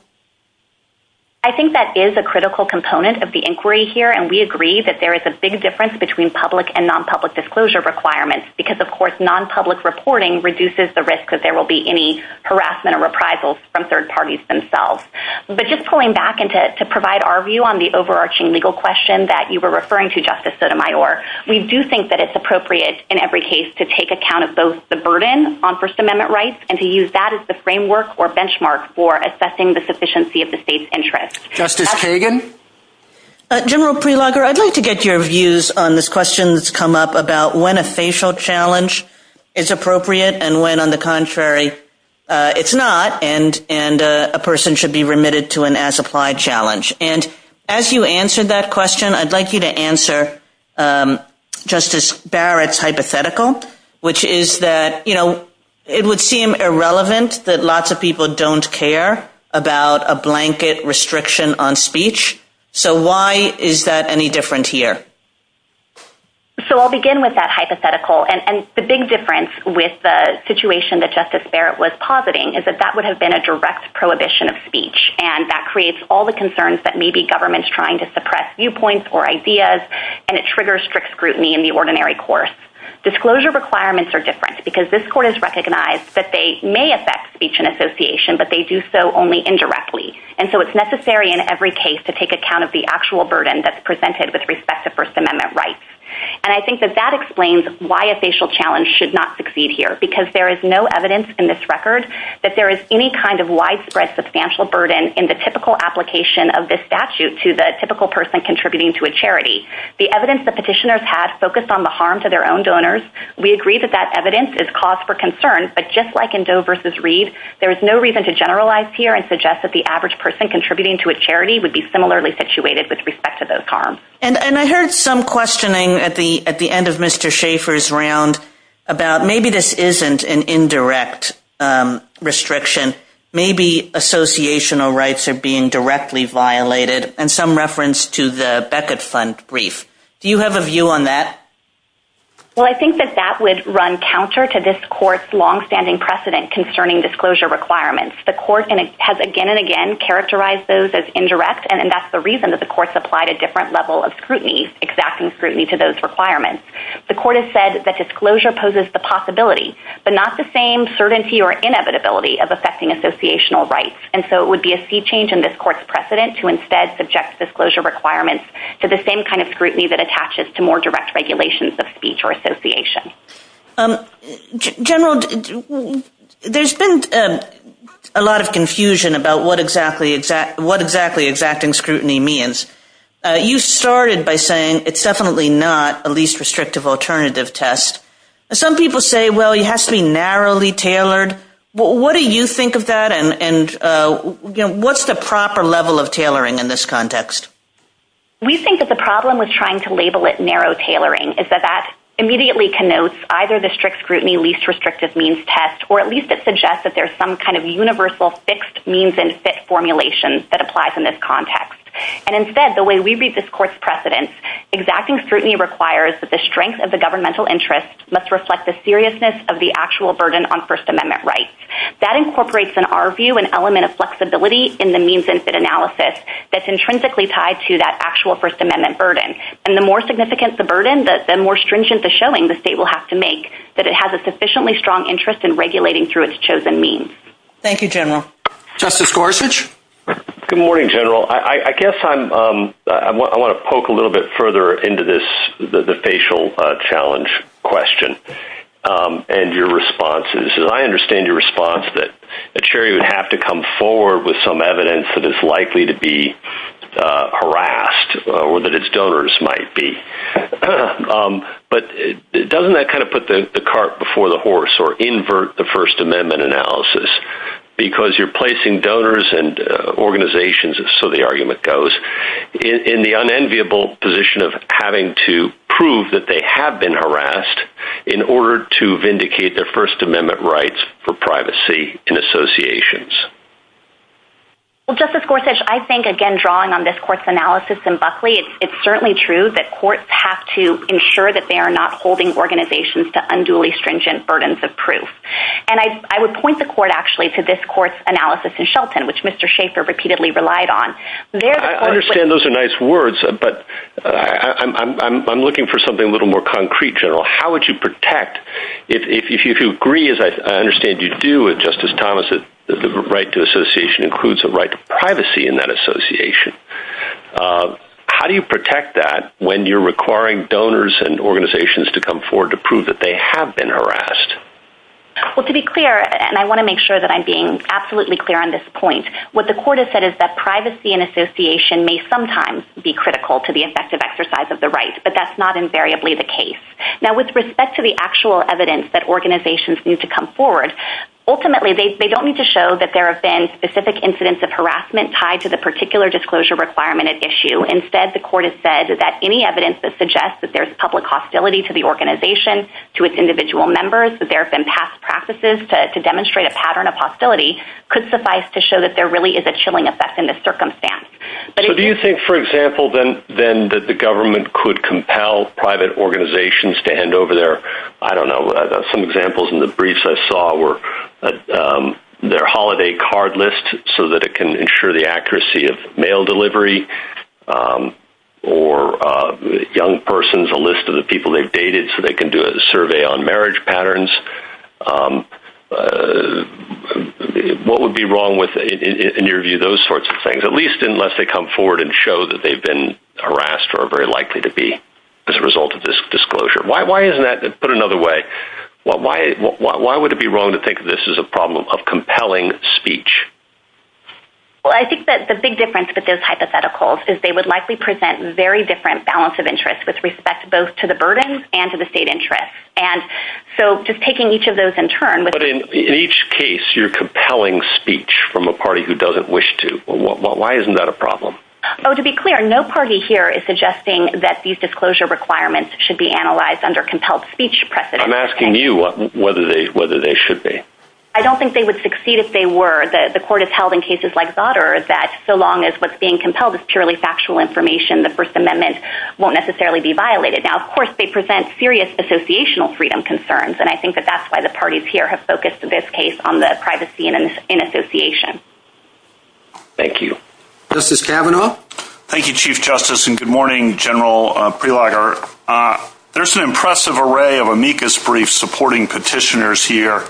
I think that is a critical component of the inquiry here, and we agree that there is a big difference between public and non-public disclosure requirements, because of course non-public reporting reduces the risk that there will be any harassment and reprisals from third parties themselves. But just pulling back to provide our view on the overarching legal question that you were referring to, Justice Sotomayor, we do think that it's appropriate in every case to take account of both the burden on First Amendment rights and to use that as the framework or benchmark for assessing the sufficiency of the state's interest. Justice Kagan? General Prelogar, I'd like to get your views on this question that's come up about when a facial challenge is appropriate and when, on the contrary, it's not and a person should be remitted to an as-applied challenge. As you answered that question, I'd like you to answer Justice Barrett's hypothetical, which is that it would seem irrelevant that lots of people don't care about a blanket restriction on speech. Why is that any different here? I'll begin with that hypothetical. The big difference with the situation that Justice Barrett was positing is that that would have been a direct prohibition of speech and that creates all the concerns that maybe government's trying to suppress viewpoints or ideas and it triggers scrutiny in the ordinary course. Disclosure requirements are different because this Court has recognized that they may affect speech and association, but they do so only indirectly. And so it's necessary in every case to take account of the actual burden that's presented with respect to First Amendment rights. And I think that that explains why a facial challenge should not succeed here because there is no evidence in this record that there is any kind of widespread substantial burden in the typical application of this statute to the typical person contributing to a charity. The evidence that petitioners have focused on the harm to their own donors, we agree that that evidence is cause for concern, but just like in Doe vs. Reed, there is no reason to generalize here and suggest that the average person contributing to a charity would be similarly situated with respect to those harms. And I heard some questioning at the end of Mr. Schaffer's round about maybe this isn't an indirect restriction. Maybe associational rights are being directly violated, and some reference to the Beckett Fund brief. Do you have a view on that? Well, I think that that would run counter to this Court's long-standing precedent concerning disclosure requirements. The Court has again and again characterized those as indirect, and that's the reason that the Court supplied a different level of scrutiny, exacting scrutiny to those requirements. The Court has said that disclosure poses the possibility, but not the same certainty or inevitability of affecting associational rights. And so it would be a sea change in this Court's precedent to instead subject disclosure requirements to the same kind of scrutiny that attaches to more direct regulations of speech or association. General, there's been a lot of confusion about what exactly exacting scrutiny means. You started by saying it's definitely not a least restrictive alternative test. Some people say, well, it has to be narrowly tailored. What do you think of that, and what's the proper level of tailoring in this context? We think that the problem with trying to label it narrow tailoring is that that immediately connotes either the strict scrutiny least restrictive means test, or at least it suggests that there's some kind of universal fixed means and fit formulation that applies in this context. And instead, the way we read this Court's precedent, exacting scrutiny requires that the strength of the governmental interest must reflect the seriousness of the actual burden on First Amendment rights. That incorporates, in our view, an element of flexibility in the means and fit analysis that's intrinsically tied to that actual First Amendment burden. And the more significant the burden, the more stringent the showing the state will have to make that it has a sufficiently strong interest in regulating through its chosen means. Thank you, General. Justice Gorsuch? Good morning, General. I guess I want to poke a little bit further into this, the facial challenge question and your responses. I understand your response that a jury would have to come forward with some evidence that it's likely to be harassed or that its donors might be. But doesn't that kind of put the cart before the horse or invert the First Amendment analysis? Because you're placing donors and organizations, so the argument goes, in the unenviable position of having to prove that they have been harassed in order to vindicate their First Amendment rights for privacy in associations. Well, Justice Gorsuch, I think again, drawing on this Court's analysis in Buckley, it's certainly true that courts have to ensure that they are not holding organizations to unduly stringent burdens of proof. And I would point the Court, actually, to this Court's analysis in Shelton, which Mr. Schaefer repeatedly relied on. I understand those are nice words, but I'm looking for something a little more concrete, General. How would you protect, if you agree as I understand you do with Justice Thomas, that the right to association includes the right to privacy in that association, how do you protect that when you're requiring donors and organizations to come forward to prove that they have been harassed? Well, to be clear, and I want to make sure that I'm being absolutely clear on this point, what the Court has said is that privacy in association may sometimes be critical to the effective exercise of the right, but that's not invariably the case. Now, with respect to the actual evidence that organizations need to come forward, ultimately they don't need to show that there have been specific incidents of harassment tied to the particular disclosure requirement at issue. Instead, the Court has said that any evidence that suggests that there's public hostility to the organization, to its individual members, that there have been past practices to demonstrate a pattern of hostility could suffice to show that there really is a chilling effect in this circumstance. So do you think, for example, then that the government could compel private organizations to hand over their I don't know, some examples in the briefs I saw were their holiday card list so that it can ensure the accuracy of mail delivery or young persons, a list of the people they've dated so they can do a survey on marriage patterns What would be wrong with, in your view, those sorts of things, at least unless they come forward and show that they've been harassed or are very likely to be as a result of this disclosure? Why isn't that put another way, why would it be wrong to think that this is a problem of compelling speech? Well, I think that the big difference with those hypotheticals is they would likely present very different balance of interests with respect both to the burdens and to the state interests. So just taking each of those in turn But in each case, you're compelling speech from a party who doesn't wish to Why isn't that a problem? Oh, to be clear, no party here is suggesting that these disclosure requirements should be analyzed under compelled speech I'm asking you whether they should be. I don't think they would succeed if they were. The court has held in cases like Goddard that so long as what's being compelled is purely factual information the First Amendment won't necessarily be violated. Now, of course, they present serious associational freedom concerns, and I think that that's why the parties here have focused in this case on the privacy in association. Thank you. Justice Kavanaugh? Thank you, Chief Justice, and good morning, General Prelogar. There's an impressive array of amicus briefs supporting petitioners here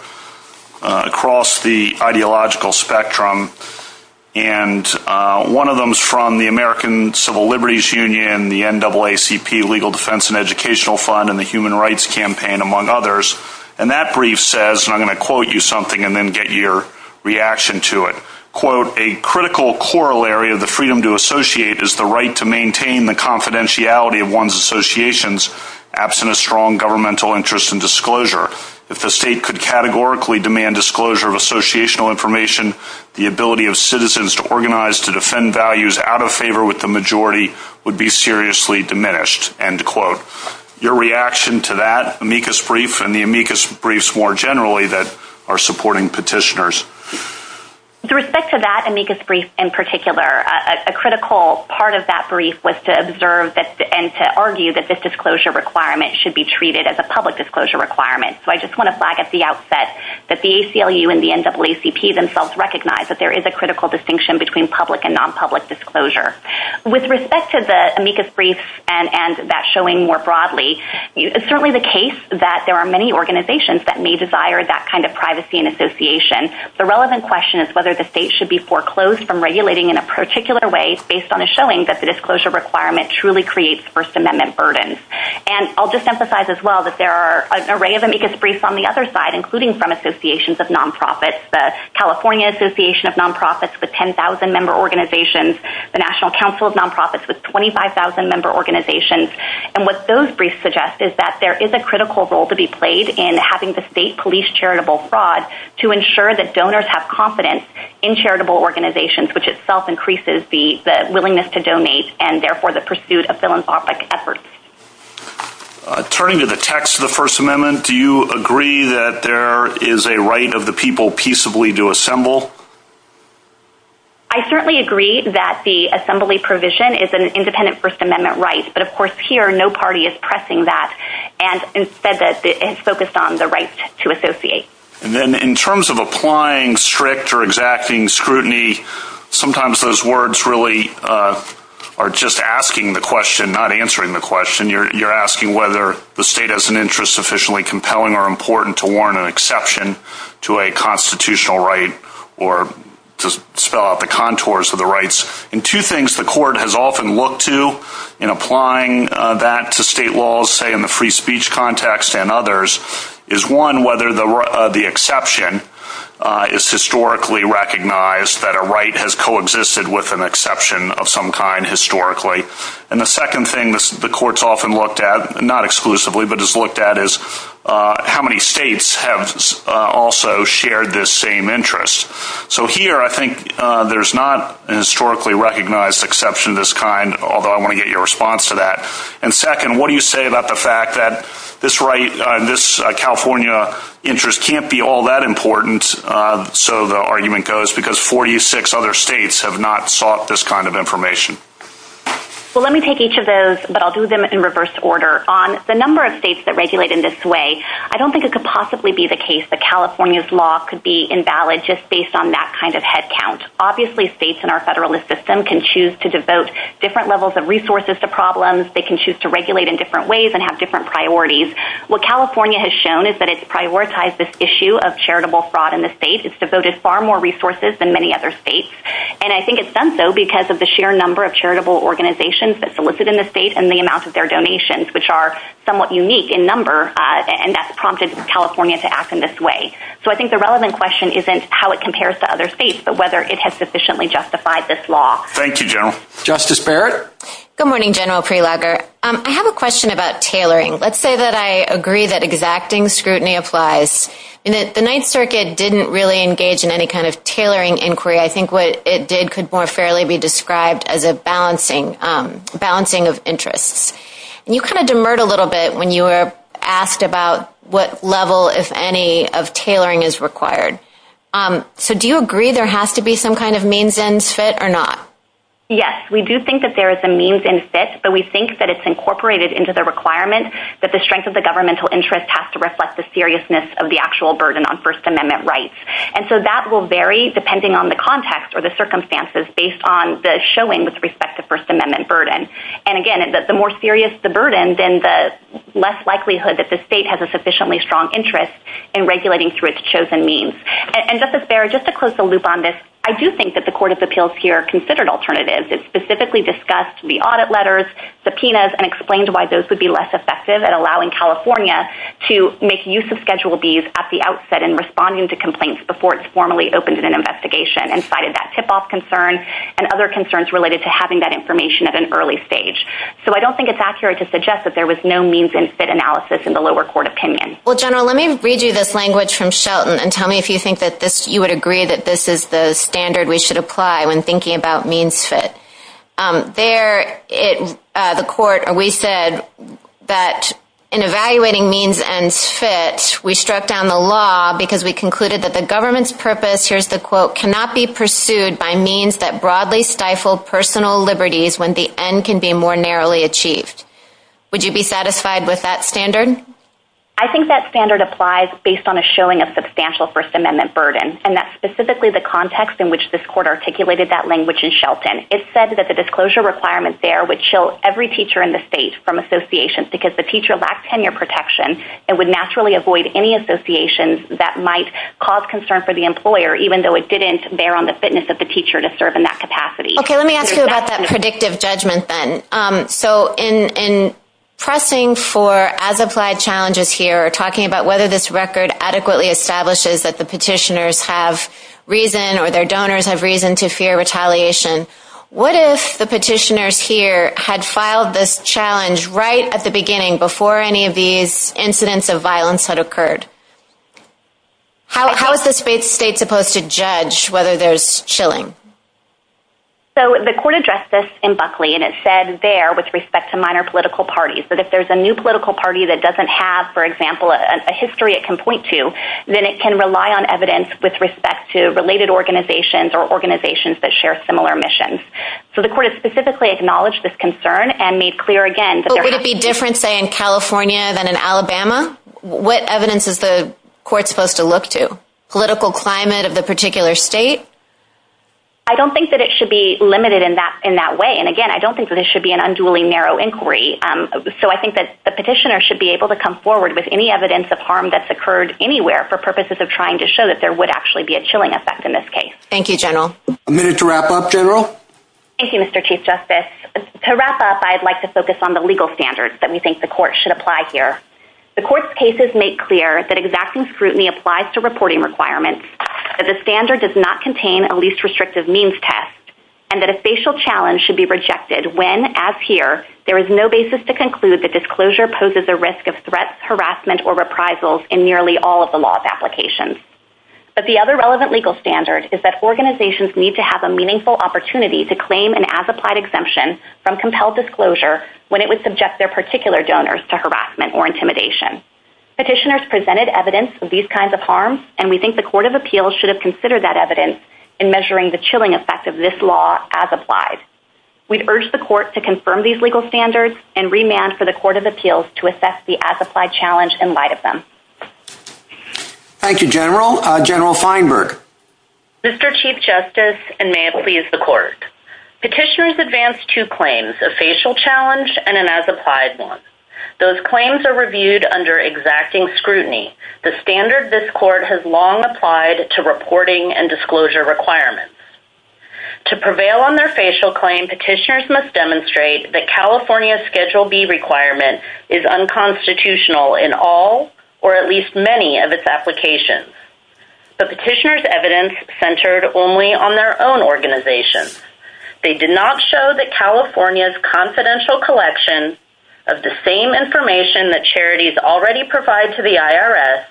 across the ideological spectrum and one of them is from the American Civil Liberties Union, the NAACP Legal Defense and Educational Fund, and the Human Rights Campaign, among others. And that brief says, and I'm going to quote you something and then get your reaction to it. Quote, "...a critical corollary of the freedom to associate is the right to maintain the confidentiality of one's associations absent a strong governmental interest in disclosure. If the state could categorically demand disclosure of associational information, the ability of citizens to organize to defend values out of favor with the majority would be seriously diminished." End quote. Your reaction to that amicus brief and the amicus briefs more generally that are supporting petitioners? With respect to that amicus brief in particular, a critical part of that brief was to observe and to argue that this disclosure requirement should be treated as a public disclosure requirement. So I just want to flag at the outset that the ACLU and the NAACP themselves recognize that there is a public disclosure. With respect to the amicus brief and that showing more broadly, it's certainly the case that there are many organizations that may desire that kind of privacy and association. The relevant question is whether the state should be foreclosed from regulating in a particular way based on a showing that the disclosure requirement truly creates First Amendment burdens. And I'll just emphasize as well that there are an array of amicus briefs on the other side, including from associations of nonprofits. The California Association of Nonprofits with 10,000 member organizations. The National Council of Nonprofits with 25,000 member organizations. And what those briefs suggest is that there is a critical role to be played in having the state police charitable fraud to ensure that donors have confidence in charitable organizations, which itself increases the willingness to donate and therefore the pursuit of philanthropic efforts. Turning to the text of the First Amendment, do you agree that there is a right of the people peaceably to assemble? I certainly agree that the assembly provision is an independent First Amendment right. But of course, here, no party is pressing that and focused on the right to associate. In terms of applying strict or exacting scrutiny, sometimes those words really are just asking the question, not answering the question. You're asking whether the state has an interest sufficiently compelling or important to warrant an exception to a constitutional right or to spell out the contours of the rights. And two things the court has often looked to in applying that to state laws, say in the free speech context and others, is one, whether the exception is historically recognized that a right has coexisted with an exception of some kind historically. And the second thing the court's often looked at, not exclusively, but has looked at is how many states have also shared this same interest. So here, I think there's not a historically recognized exception of this kind, although I want to get your response to that. And second, what do you say about the fact that this California interest can't be all that important, so the argument goes, because 46 other states have not sought this kind of information? Well, let me take each of those, but I'll do them in reverse order. On the number of states that regulate in this way, I don't think it could possibly be the case that California's law could be invalid just based on that kind of headcount. Obviously, states in our federalist system can choose to devote different levels of resources to problems. They can choose to regulate in different ways and have different priorities. What California has shown is that it's prioritized this issue of charitable fraud in the state. It's devoted far more And I think it's done so because of the sheer number of charitable organizations that solicit in the state and the amount of their donations, which are somewhat unique in number and that's prompted California to act in this way. So I think the relevant question isn't how it compares to other states, but whether it has sufficiently justified this law. Thank you, General. Justice Barrett? Good morning, General Prelabner. I have a question about tailoring. Let's say that I agree that exacting scrutiny applies. The Ninth Circuit didn't really engage in any kind of tailoring inquiry. I think what it did could more fairly be described as a balancing of interests. You kind of demurred a little bit when you were asked about what level, if any, of tailoring is required. So do you agree there has to be some kind of means and fit or not? Yes, we do think that there is a means and fit, but we think that it's incorporated into the requirement that the strength of the governmental interest has to reflect the seriousness of the actual burden on First Amendment rights. And so that will vary depending on the context or the circumstances based on the showing with respect to First Amendment burden. And again, the more serious the burden, then the less likelihood that the state has a sufficiently strong interest in regulating through its chosen means. And Justice Barrett, just to close the loop on this, I do think that the Court of Appeals here considered alternatives. It specifically discussed the audit letters, subpoenas, and explained why those would be less effective at allowing California at the outset and responding to complaints before it's formally opened in an investigation and cited that tip-off concern and other concerns related to having that information at an early stage. So I don't think it's accurate to suggest that there was no means and fit analysis in the lower court opinion. General, let me read you this language from Shelton and tell me if you think that you would agree that this is the standard we should apply when thinking about means fit. There, the Court, we said that in evaluating means and fit, we struck down the law because we concluded that the government's purpose, here's the quote, cannot be pursued by means that broadly stifle personal liberties when the end can be more narrowly achieved. Would you be satisfied with that standard? I think that standard applies based on a showing of substantial First Amendment burden, and that's specifically the context in which this Court articulated that language in Shelton. It said that the disclosure requirements there would chill every teacher in the state from associations because the teacher lacked tenure protection and would naturally avoid any associations that might cause concern for the employer even though it didn't bear on the fitness of the teacher to serve in that capacity. Okay, let me ask you about that predictive judgment then. So in pressing for as-applied challenges here, talking about whether this record adequately establishes that the petitioners have reason or their donors have reason to fear retaliation, what if the petitioners here had filed this challenge right at the beginning before any of these incidents of violence had occurred? How is the state supposed to judge whether there's chilling? So the Court addressed this in Buckley, and it said there, with respect to minor political parties, that if there's a new political party that doesn't have, for example, a history it can point to, then it can rely on evidence with respect to related organizations or organizations that share similar missions. So the Court has specifically acknowledged this concern and made clear again that there has to be... But would it be different, say, in what evidence is the Court supposed to look to? Political climate of the particular state? I don't think that it should be limited in that way. And again, I don't think that it should be an unduly narrow inquiry. So I think that the petitioner should be able to come forward with any evidence of harm that's occurred anywhere for purposes of trying to show that there would actually be a chilling effect in this case. Thank you, General. A minute to wrap up, General? Thank you, Mr. Chief Justice. To wrap up, I'd like to focus on the legal standards that we think the Court should apply here. The Court's cases make clear that exacting scrutiny applies to reporting requirements, that the standard does not contain a least restrictive means test, and that a facial challenge should be rejected when, as here, there is no basis to conclude that disclosure poses a risk of threats, harassment, or reprisals in nearly all of the law's applications. But the other relevant legal standard is that organizations need to have a meaningful opportunity to claim an as-applied exemption from compelled disclosure when it would subject their particular donors to harassment or intimidation. Petitioners presented evidence of these kinds of harms, and we think the Court of Appeals should have considered that evidence in measuring the chilling effect of this law as applied. We'd urge the Court to confirm these legal standards and remand for the Court of Appeals to assess the as-applied challenge in light of them. Thank you, General. General Feinberg. Mr. Chief Justice, and may it please the Court. Petitioners advance two claims, a facial challenge and an as-applied one. Those claims are reviewed under exacting scrutiny. The standard this Court has long applied to reporting and disclosure requirements. To prevail on their facial claim, petitioners must demonstrate that California's Schedule B requirement is unconstitutional in all or at least many of its applications. The petitioners' evidence centered only on their own organization. They did not show that California's confidential collection of the same information that charities already provide to the IRS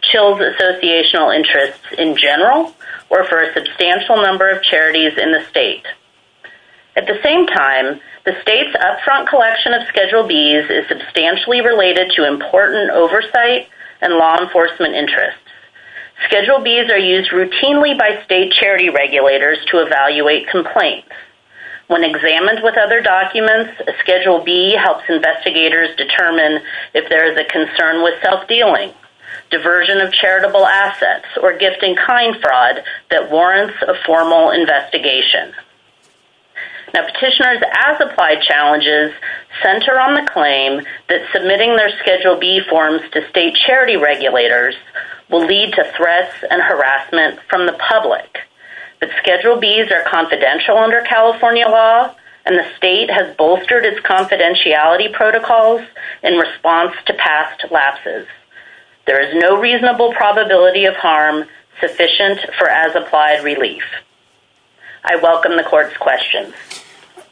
chills associational interests in general or for a substantial number of charities in the state. At the same time, the state's up-front collection of Schedule Bs is substantially related to important oversight and law enforcement interests. Schedule Bs are used routinely by state charity regulators to evaluate complaints. When examined with other documents, a Schedule B helps investigators determine if there is a concern with self-dealing, diversion of charitable assets, or gift-in-kind fraud that warrants a formal investigation. Petitioners' as-applied challenges center on the claim that submitting their Schedule B forms to state charity regulators will lead to threats and consequences. The Schedule Bs are confidential under California law and the state has bolstered its confidentiality protocols in response to past lapses. There is no reasonable probability of harm sufficient for as-applied relief. I welcome the court's questions.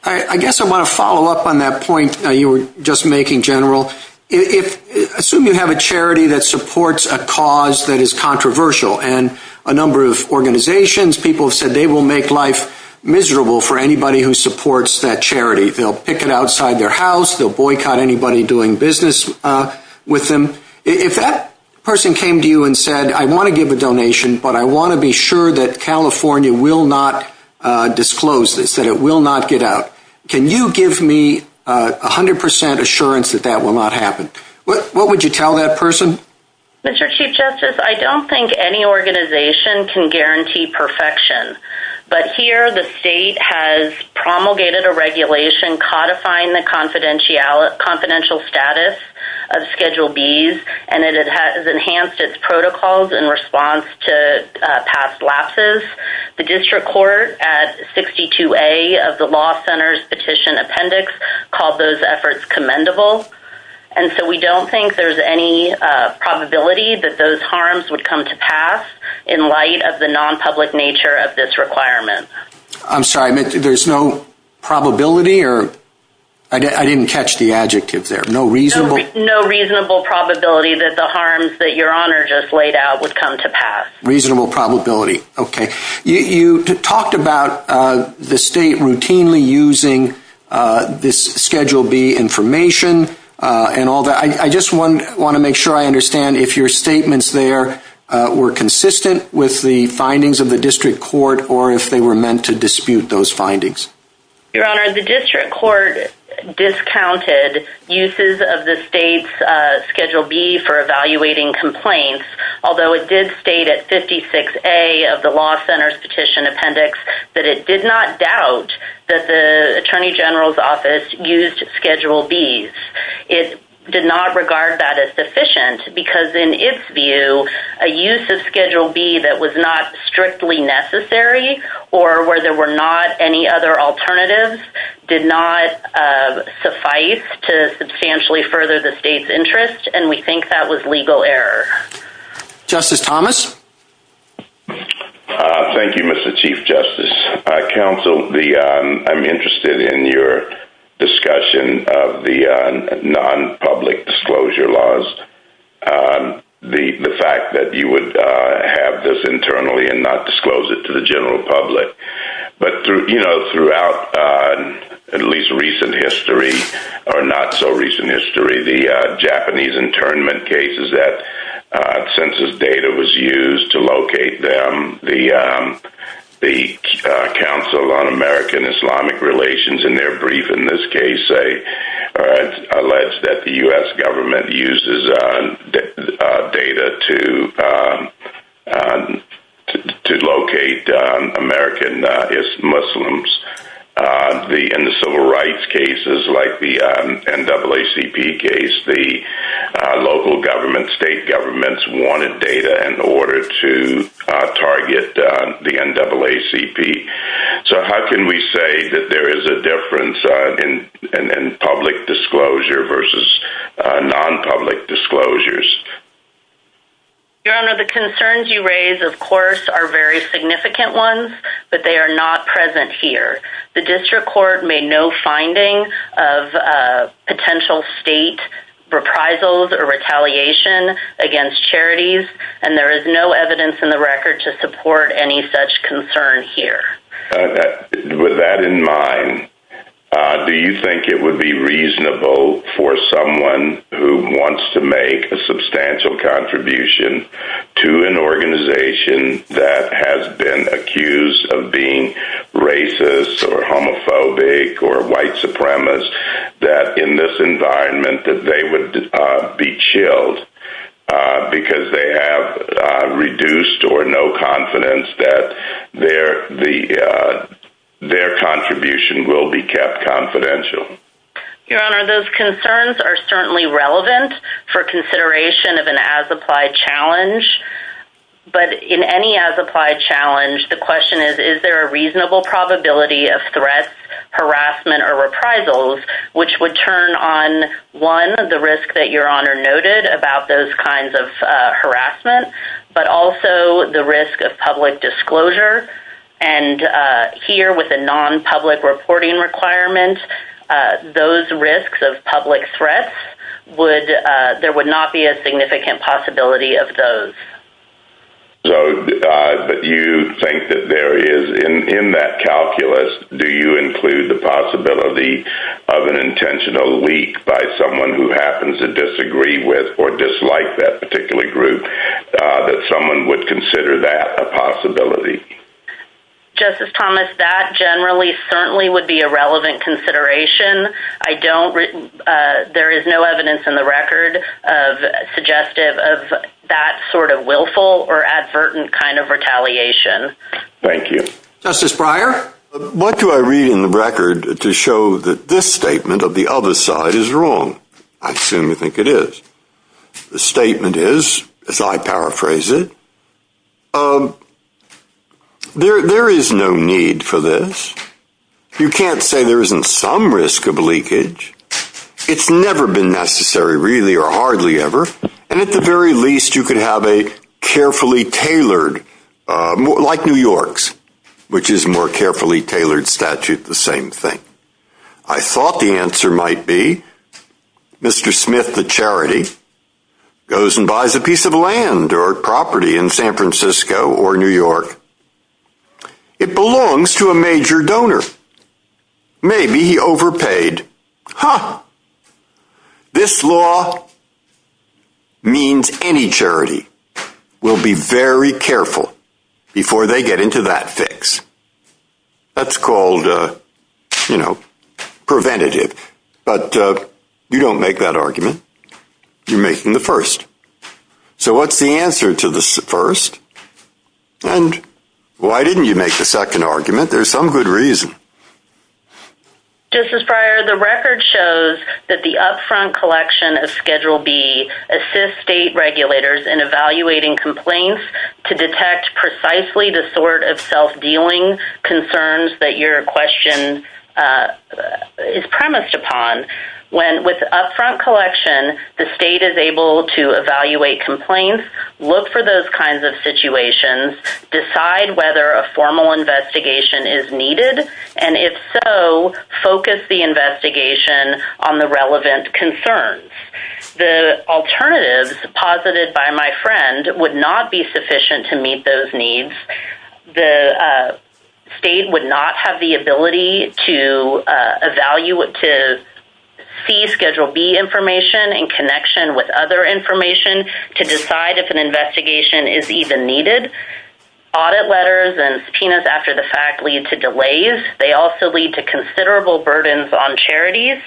I guess I want to follow up on that point you were just making, General. Assume you have a charity that supports a cause that is controversial and a number of organizations people have said they will make life miserable for anybody who supports that charity. They'll pick it outside their house, they'll boycott anybody doing business with them. If that person came to you and said I want to give a donation, but I want to be sure that California will not disclose this, that it will not get out, can you give me 100% assurance that that will not happen? What would you tell that person? Mr. Chief Justice, I don't think any organization can guarantee perfection, but here the state has promulgated a regulation codifying the confidentiality status of Schedule B and it has enhanced its protocols in response to past lapses. The District Court at 62A of the Law Center's Petition Appendix called those efforts commendable. And so we don't think there's any probability that those harms would come to pass in light of the non-public nature of this requirement. I'm sorry, there's no probability or, I didn't catch the adjective there, no reasonable? No reasonable probability that the harms that Your Honor just laid out would come to pass. Reasonable probability, okay. You talked about the state routinely using this and all that. I just want to make sure I understand if your statements there were consistent with the findings of the District Court or if they were meant to dispute those findings. Your Honor, the District Court discounted uses of the state's Schedule B for evaluating complaints, although it did state at 56A of the Law Center's Petition Appendix that it did not doubt that the Attorney General's Office used Schedule B's. It did not regard that as deficient because in its view a use of Schedule B that was not strictly necessary or where there were not any other alternatives did not suffice to substantially further the state's interest and we think that was legal error. Justice Thomas? Thank you, Mr. Chief Justice. Counsel, I'm interested in your discussion of the non-public disclosure laws. The fact that you would have this internally and not disclose it to the general public but throughout at least recent history or not so recent history the Japanese internment cases that census data was used to locate them. The NAACP Council on American Islamic Relations in their brief in this case alleged that the U.S. government uses data to locate American Muslims. In the civil rights cases like the NAACP case, the local government, state governments wanted data in order to locate them. So how can we say that there is a difference in public disclosure versus non-public disclosures? Your Honor, the concerns you raise, of course, are very significant ones, but they are not present here. The district court made no finding of potential state reprisals or retaliation against charities and there is no evidence in the record to support any such concern here. With that in mind, do you think it would be reasonable for someone who wants to make a substantial contribution to an organization that has been accused of being racist or homophobic or white supremacist that in this environment that they would be chilled because they have reduced or no confidence that their will be kept confidential? Your Honor, those concerns are certainly relevant for consideration of an as-applied challenge, but in any as-applied challenge the question is, is there a reasonable probability of threats, harassment, or reprisals which would turn on, one, the risk that Your Honor noted about those kinds of harassment, but also the risk of public disclosure and here with a non-public reporting requirement, those risks of public threats, there would not be a significant possibility of those. But you think that there is in that calculus, do you include the possibility of an individual who happens to disagree with or dislike that particular group that someone would consider that a possibility? Justice Thomas, that generally certainly would be a relevant consideration. I don't there is no evidence in the record of suggestive of that sort of willful or advertent kind of retaliation. Thank you. Justice Breyer? What do I read in the record to show that this statement of the other side is wrong? I assume you think it is. The statement is, as I paraphrase it, there is no need for this. You can't say there isn't some risk of leakage. It's never been necessary really or hardly ever, and at the very least you could have a carefully tailored, like New York's, which is more carefully tailored statute, the same thing. I thought the answer might be Mr. Smith, the charity, goes and buys a piece of land or property in San Francisco or New York. It belongs to a major donor. Maybe he overpaid. Huh. This law means any charity will be very careful before they get into that fix. That's called preventative. You don't make that argument. You're making the first. What's the answer to the first? Why didn't you make the second argument? There's some good reason. Justice Breyer, the record shows that the upfront collection of Schedule B assists state regulators in evaluating complaints to detect precisely the sort of self-dealing concerns that your question is premised upon. With upfront collection, the state is able to evaluate complaints, look for those kinds of situations, decide whether a formal investigation is needed, and if so, focus the investigation on the relevant concerns. The alternatives posited by my friend would not be sufficient to meet those needs. The state would not have the ability to evaluate, to see Schedule B information in connection with other information to decide if an investigation is even needed. Audit letters and subpoenas after the fact lead to delays. They also lead to considerable burdens on charities,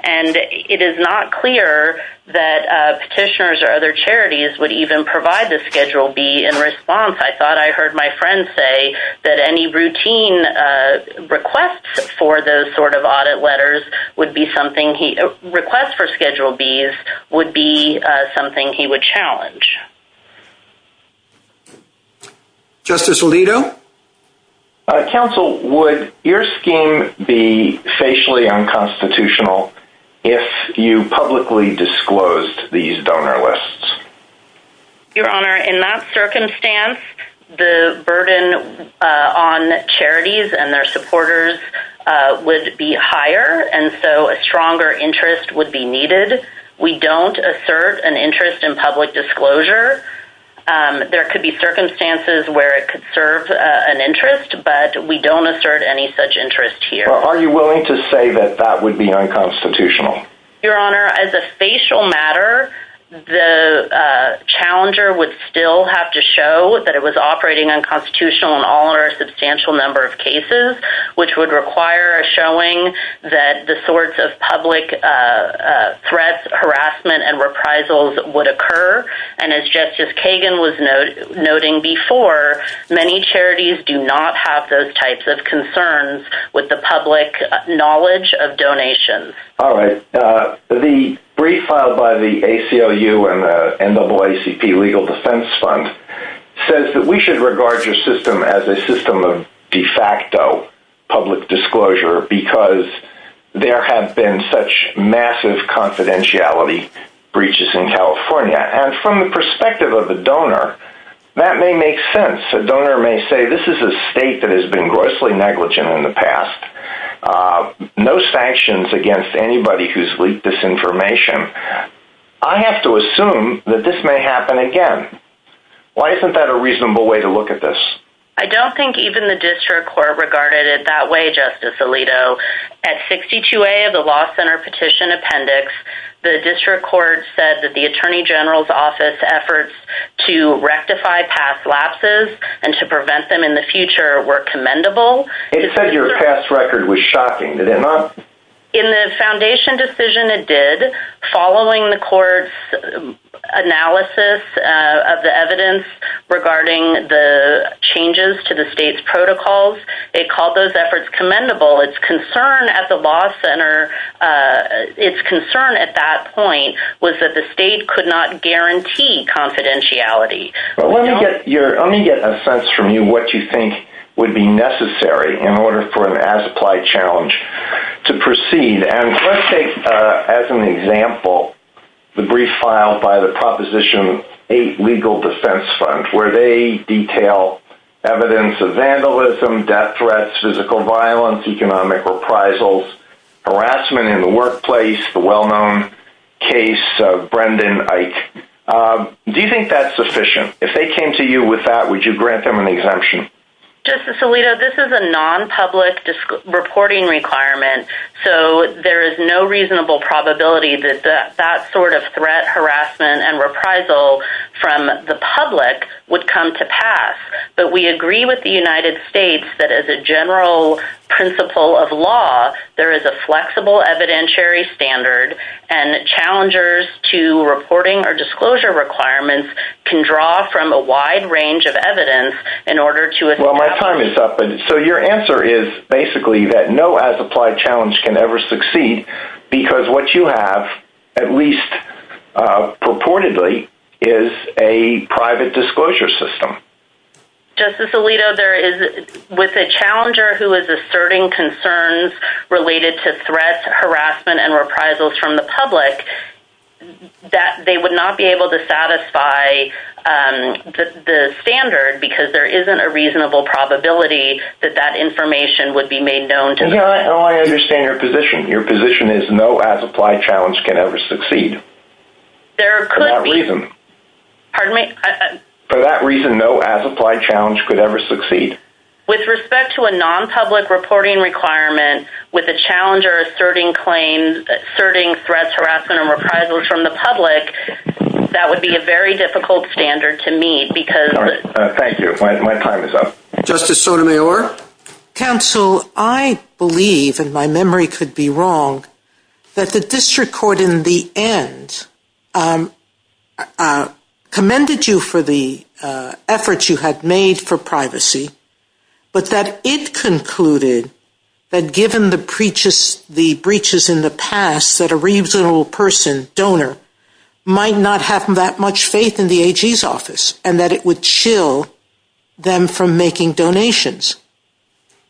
and it is not clear that the state would be willing to provide the Schedule B in response. I thought I heard my friend say that any routine requests for those sort of audit letters would be something he would challenge. Justice Alito? Counsel, would your scheme be facially unconstitutional if you publicly disclosed these donor lists? Your Honor, in that circumstance the burden on charities and their supporters would be higher, and so a stronger interest would be needed. We don't assert an interest in public disclosure. There could be circumstances where it could serve an interest, but we don't assert any such interest here. Are you willing to say that that would be unconstitutional? Your Honor, as a facial matter the challenger would still have to show that it was operating unconstitutional in all or a substantial number of cases, which would require showing that the sorts of public threats, harassment, and reprisals would occur, and as Justice Kagan was noting before, many charities do not have those types of concerns with the public knowledge of donations. The brief filed by the ACLU and the NAACP Legal Defense Fund says that we should regard your system as a system of de facto public disclosure because there have been such massive confidentiality breaches in California, and from the perspective of a donor that may make sense. A donor may say, this is a state that has been grossly negligent in the past. No sanctions against anybody who has leaked this information. I have to assume that this may happen again. Why isn't that a reasonable way to look at this? I don't think even the district court regarded it that way, Justice Alito. At 62A of the Law Center Petition Appendix, the district court said that the Attorney General's Office's efforts to rectify past lapses and to prevent them in the future were commendable. It said your past record was shocking. Did it not? In the foundation decision, it did. Following the court's analysis of the evidence regarding the changes to the state's protocols, it called those efforts commendable. Its concern at the Law Center, its concern at that point was that the state could not guarantee confidentiality. Let me get a sense from you what you think would be necessary in order for an as-applied challenge to proceed. Let's take as an example the brief filed by the Proposition 8 Legal Defense Fund, where they detail evidence of vandalism, death threats, physical violence, economic reprisals, harassment in the workplace, the well-known case of Brendan Eich. Do you think that's sufficient? If they came to you with that, would you grant them an exemption? Justice Alito, this is a non-public reporting requirement, so there is no reasonable probability that that sort of threat, harassment, and reprisal from the public would come to pass. But we agree with the United States that as a general principle of law, there is a flexible evidentiary standard and challengers to reporting or disclosure requirements can draw from a wide range of evidence in order to... Well, my time is up, so your answer is basically that no as-applied challenge can ever succeed because what you have, at least purportedly, is a private disclosure system. Justice Alito, there is with a challenger who is asserting concerns related to threat, harassment, and reprisals from the public, that they would not be able to satisfy the standard because there isn't a reasonable probability that that information would be made known to the public. I understand your position. Your position is no as-applied challenge can ever succeed. There could be. For that reason. Pardon me? For that reason, no as-applied challenge could ever succeed. With respect to a non-public reporting requirement with a challenger asserting claims, asserting threats, harassment, and reprisals from the public, that would be a very difficult standard to meet because... Thank you. My time is up. Justice Sotomayor? Counsel, I believe, and my memory could be wrong, that the district court in the end commended you for the effort you had made for privacy, but that it concluded that given the breaches in the past, that a reasonable person, donor, might not have that much faith in the AG's office, and that it would chill them from making donations.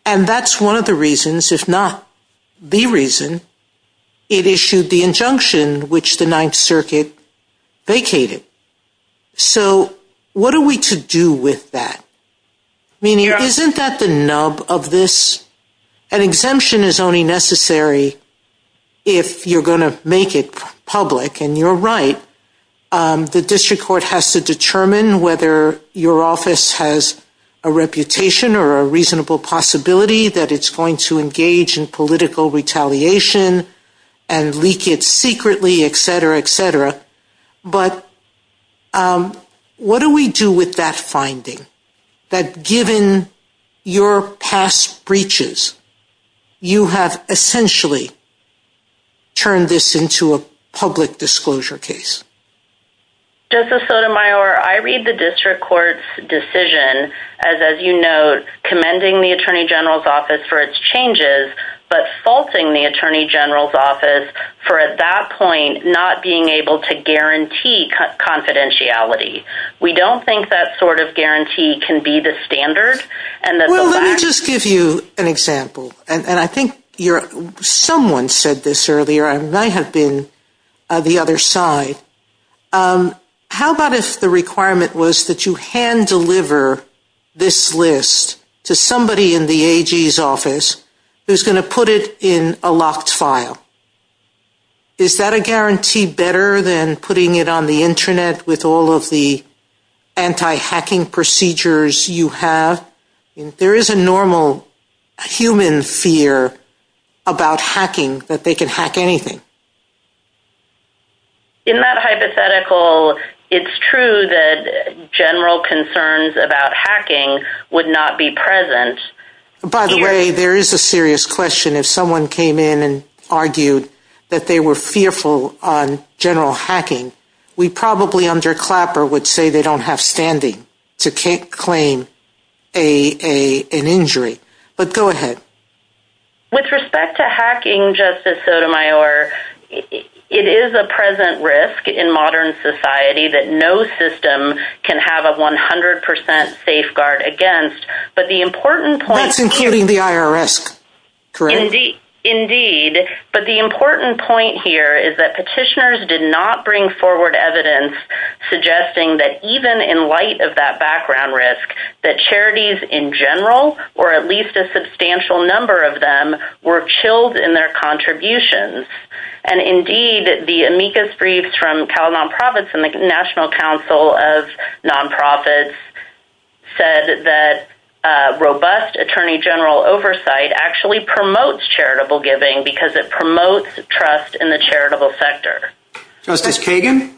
And that's one of the reasons, if not the reason, it issued the injunction which the Ninth Circuit vacated. So, what are we to do with that? I mean, isn't that the nub of this? An exemption is only necessary if you're going to make it public, and you're right. The district court has to determine whether your office has a reputation or a reasonable possibility that it's going to engage in political retaliation and leak it secretly, etc., etc. But what do we do with that finding? That given your past breaches, you have essentially turned this into a public disclosure case. Justice Sotomayor, I read the district court's decision as, as you note, commending the AG's office for its changes, but faulting the Attorney General's office for, at that point, not being able to guarantee confidentiality. We don't think that sort of guarantee can be the standard, and that's... Well, let me just give you an example, and I think someone said this earlier, and I have been the other side. How about if the requirement was that you hand-deliver this list to somebody in the AG's office who's going to put it in a locked file? Is that a guarantee better than putting it on the Internet with all of the anti-hacking procedures you have? There is a normal human fear about hacking, that they can hack anything. Isn't that hypothetical? It's true that general concerns about hacking would not be present. By the way, there is a serious question. If someone came in and argued that they were fearful on general hacking, we probably, under Clapper, would say they don't have standing to claim an injury. But go ahead. With respect to hacking, Justice Sotomayor, it is a present risk in modern society that no system can have a 100% safeguard against, but the important point... Executing the IRS. Correct. Indeed. But the important point here is that petitioners did not bring forward evidence suggesting that even in light of that background risk, that charities in general, or at least a substantial number of them, were chilled in their contributions. Indeed, the amicus briefs from Cal Nonprofits and the National Council of that robust attorney general oversight actually promotes charitable giving because it promotes trust in the charitable sector. Justice Kagan?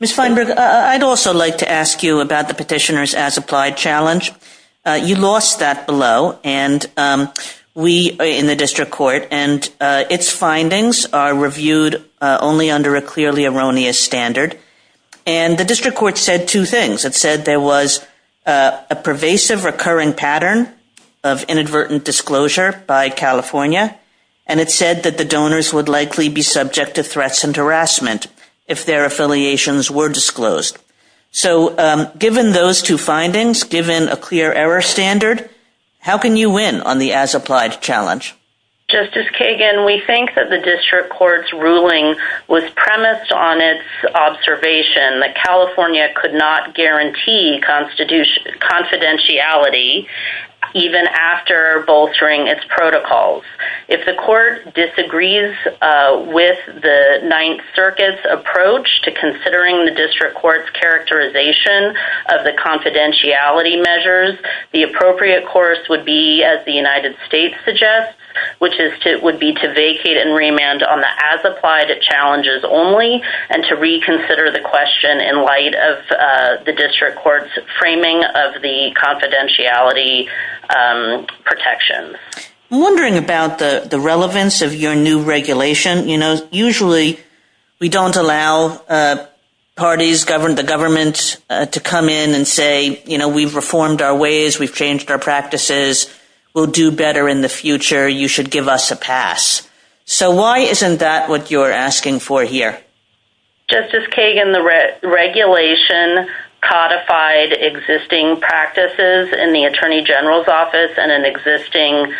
Ms. Feinberg, I'd also like to ask you about the Petitioner's As Applied Challenge. You lost that below, and we in the District Court and its findings are reviewed only under a clearly erroneous standard. And the District Court said two things. It said there was a pervasive recurring pattern of inadvertent disclosure by California, and it said that donors would likely be subject to threats and harassment if their affiliations were disclosed. So, given those two findings, given a clear error standard, how can you win on the As Applied Challenge? Justice Kagan, we think that the District Court's ruling was premised on its observation that California could not guarantee confidentiality even after bolstering its protocols. If the Court disagrees with the Ninth Circuit's approach to considering the District Court's characterization of the confidentiality measures, the appropriate course would be, as the United States suggests, which is to vacate and remand on the As Applied Challenges only, and to reconsider the question in light of the District Court's framing of the confidentiality protections. I'm wondering about the relevance of your new regulation. You know, usually, we don't allow parties, the governments, to come in and say, you know, we've reformed our ways, we've changed our practices, we'll do better in the future, you should give us a pass. So, why isn't that what you're asking for here? Justice Kagan, the regulation codified existing practices in the Attorney General's and an existing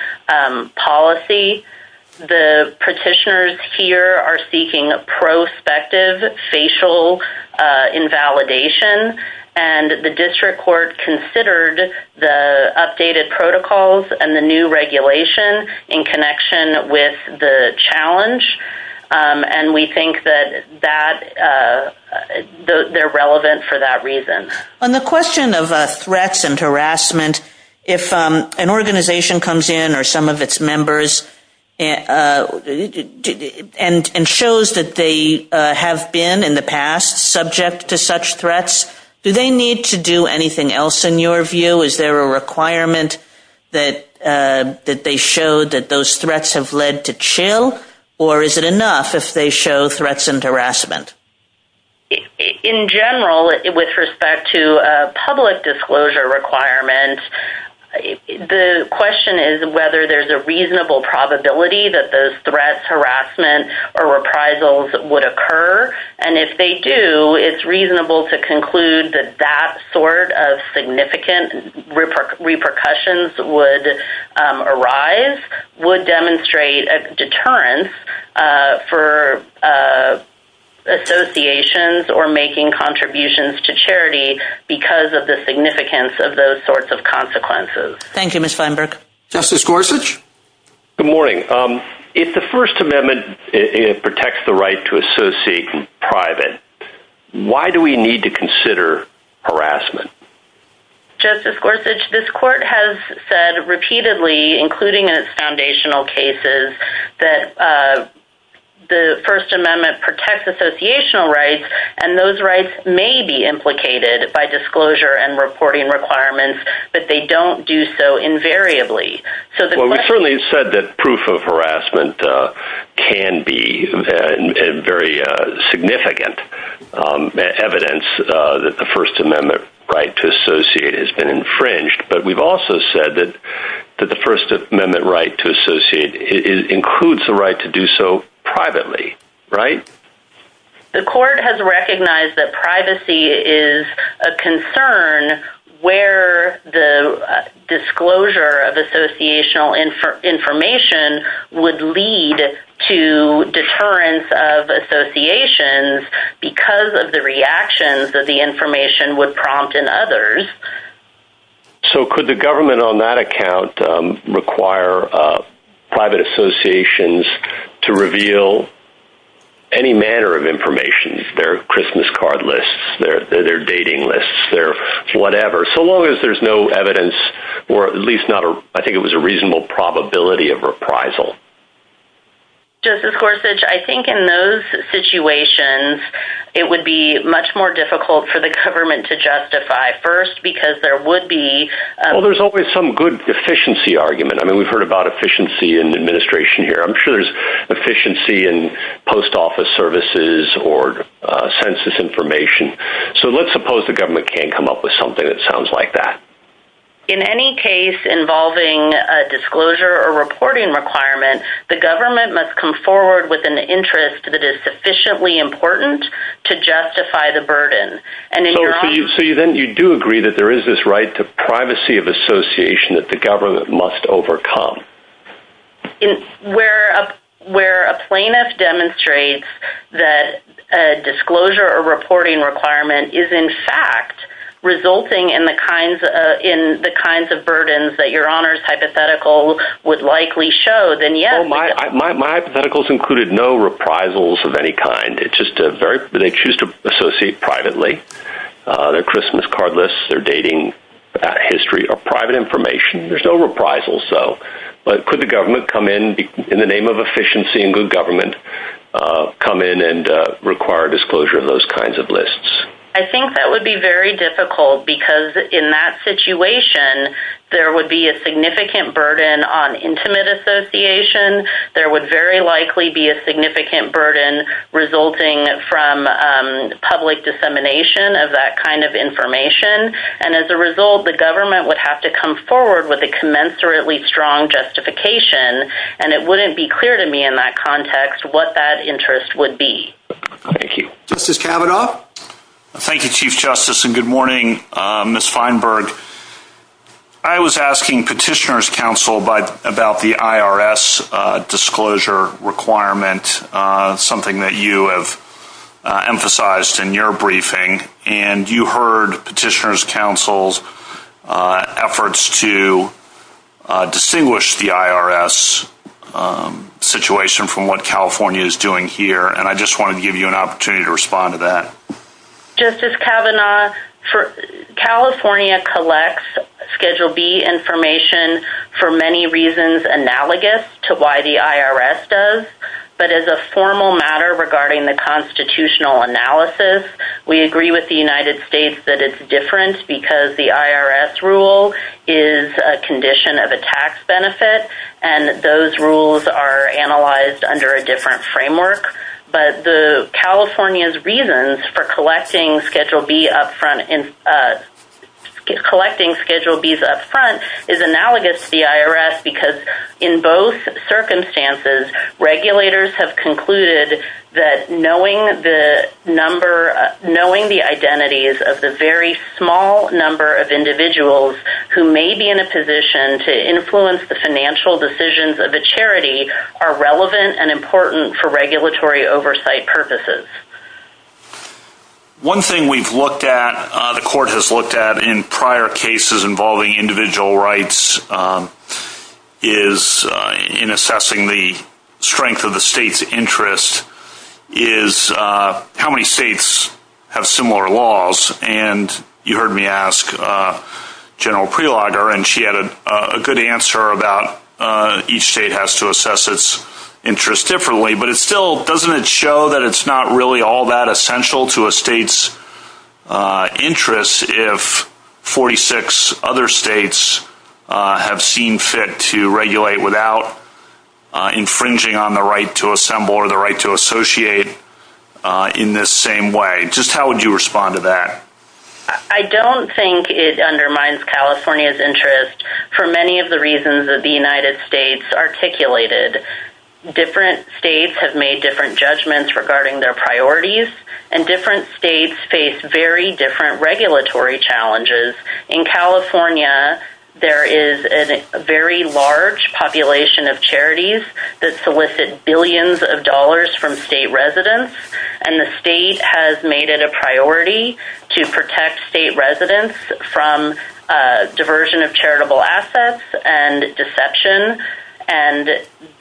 policy. The petitioners here are seeking prospective facial invalidation and the District Court considered the updated protocols and the new regulation in connection with the challenge and we think that that, they're relevant for that reason. On the question of threats and harassment, if an organization comes in or some of its members and shows that they have been in the past subject to such threats, do they need to do anything else in your view? Is there a requirement that they show that those threats have led to chill or is it enough if they show threats and harassment? In general, with respect to the public disclosure requirement, the question is whether there's a reasonable probability that those threats, harassment, or reprisals would occur and if they do, it's reasonable to conclude that that sort of significant repercussions would arise, would demonstrate a deterrence for associations or associations. probability that those associations are making contributions to charity because of the significance of those sorts of consequences. Thank you. Justice Gorsuch? Good morning. If the First Amendment protects the right to associate in private, why do we need to consider harassment? Justice Gorsuch, this is a very important question. prohibits harassment. Those rights may be implicated by disclosure and reporting requirements, but they don't do so invariably. We certainly said that proof of harassment can be very significant evidence that the First Amendment right to associate has been infringed, but we've also said that the First Amendment right to associate includes the right to do so privately, right? The court has recognized that privacy is a concern where the disclosure of associational information would lead to deterrence of associations because of the reactions that the information would prompt in others. So could the government on that account require private associations to reveal any manner of information? Their Christmas card lists, their dating lists, whatever, so long as there's no evidence, or at least not a reasonable probability of reprisal? Justice Gorsuch, I think in those situations, it would be much more difficult for the government to come forward with an important to justify the burden because there would be... Well, there's always some good efficiency argument. I mean, we've heard about efficiency in administration here. I'm sure there's efficiency in post office services or census information. So let's suppose the government can't come up with something that sounds like that. In any case involving a disclosure or reporting requirement, the government must come forward with an interest that is sufficiently important to justify the burden. So you do agree that there is this right to privacy of association that the government must overcome. Where a plaintiff demonstrates that a disclosure or reporting requirement is in fact resulting in the kinds of burdens that Your Honor's hypothetical would likely show, then yes. My hypotheticals included no reprisals of any kind. They choose to associate privately. The Christmas card lists they're dating about history are private information. There's no reprisals though. But could the government come in in the name of efficiency and good government come in and require disclosure of those kinds of lists? I think that would be very difficult because in that situation there would be a significant burden on intimate association. There would very likely be a significant burden resulting from public dissemination of that kind of information. And as a result the government would have to come forward with a commensurately strong justification and it wouldn't be clear to me in that context what that interest would be. Thank you. Justice Kavanaugh? Thank you Chief Justice and good morning Ms. Feinberg I was asking Petitioner's Council about the IRS disclosure requirement something that you have emphasized in your briefing and you heard Petitioner's Council's efforts to distinguish the IRS situation from what California is doing here and I just wanted to give you an opportunity to respond to that. Justice Kavanaugh California collects Schedule B information for many reasons analogous to why the IRS does but as a formal matter regarding the constitutional analysis we agree with the United States that it's different because the IRS rule is a condition of a tax benefit and those rules are analyzed under a different framework but California's reasons for collecting Schedule B up front collecting Schedule B's up front is analogous to the IRS because in both circumstances regulators have concluded that knowing the number knowing the identities of the very small number of individuals who may be in a position to influence the financial decisions of a charity are relevant and important for regulatory oversight purposes. One thing we've looked at, the court has looked at in prior cases involving individual rights is in assessing the strength of the state's interest is how many states have similar laws and you heard me ask General Prelogger and she had a good answer about each state has to assess its interest differently but it still doesn't show that it's not really all that essential to a state's interest if 46 other states have seen fit to regulate without infringing on the right to assemble or the right to associate in this same way. Just how would you respond to that? I don't think it undermines California's interest for many of the reasons that the United States articulated. Different states have made different judgments regarding their priorities and different states face very different regulatory challenges. In California there is a very large population of charities that solicit billions of dollars from state residents and the state has made it a priority to protect state residents from diversion of charitable assets and deception and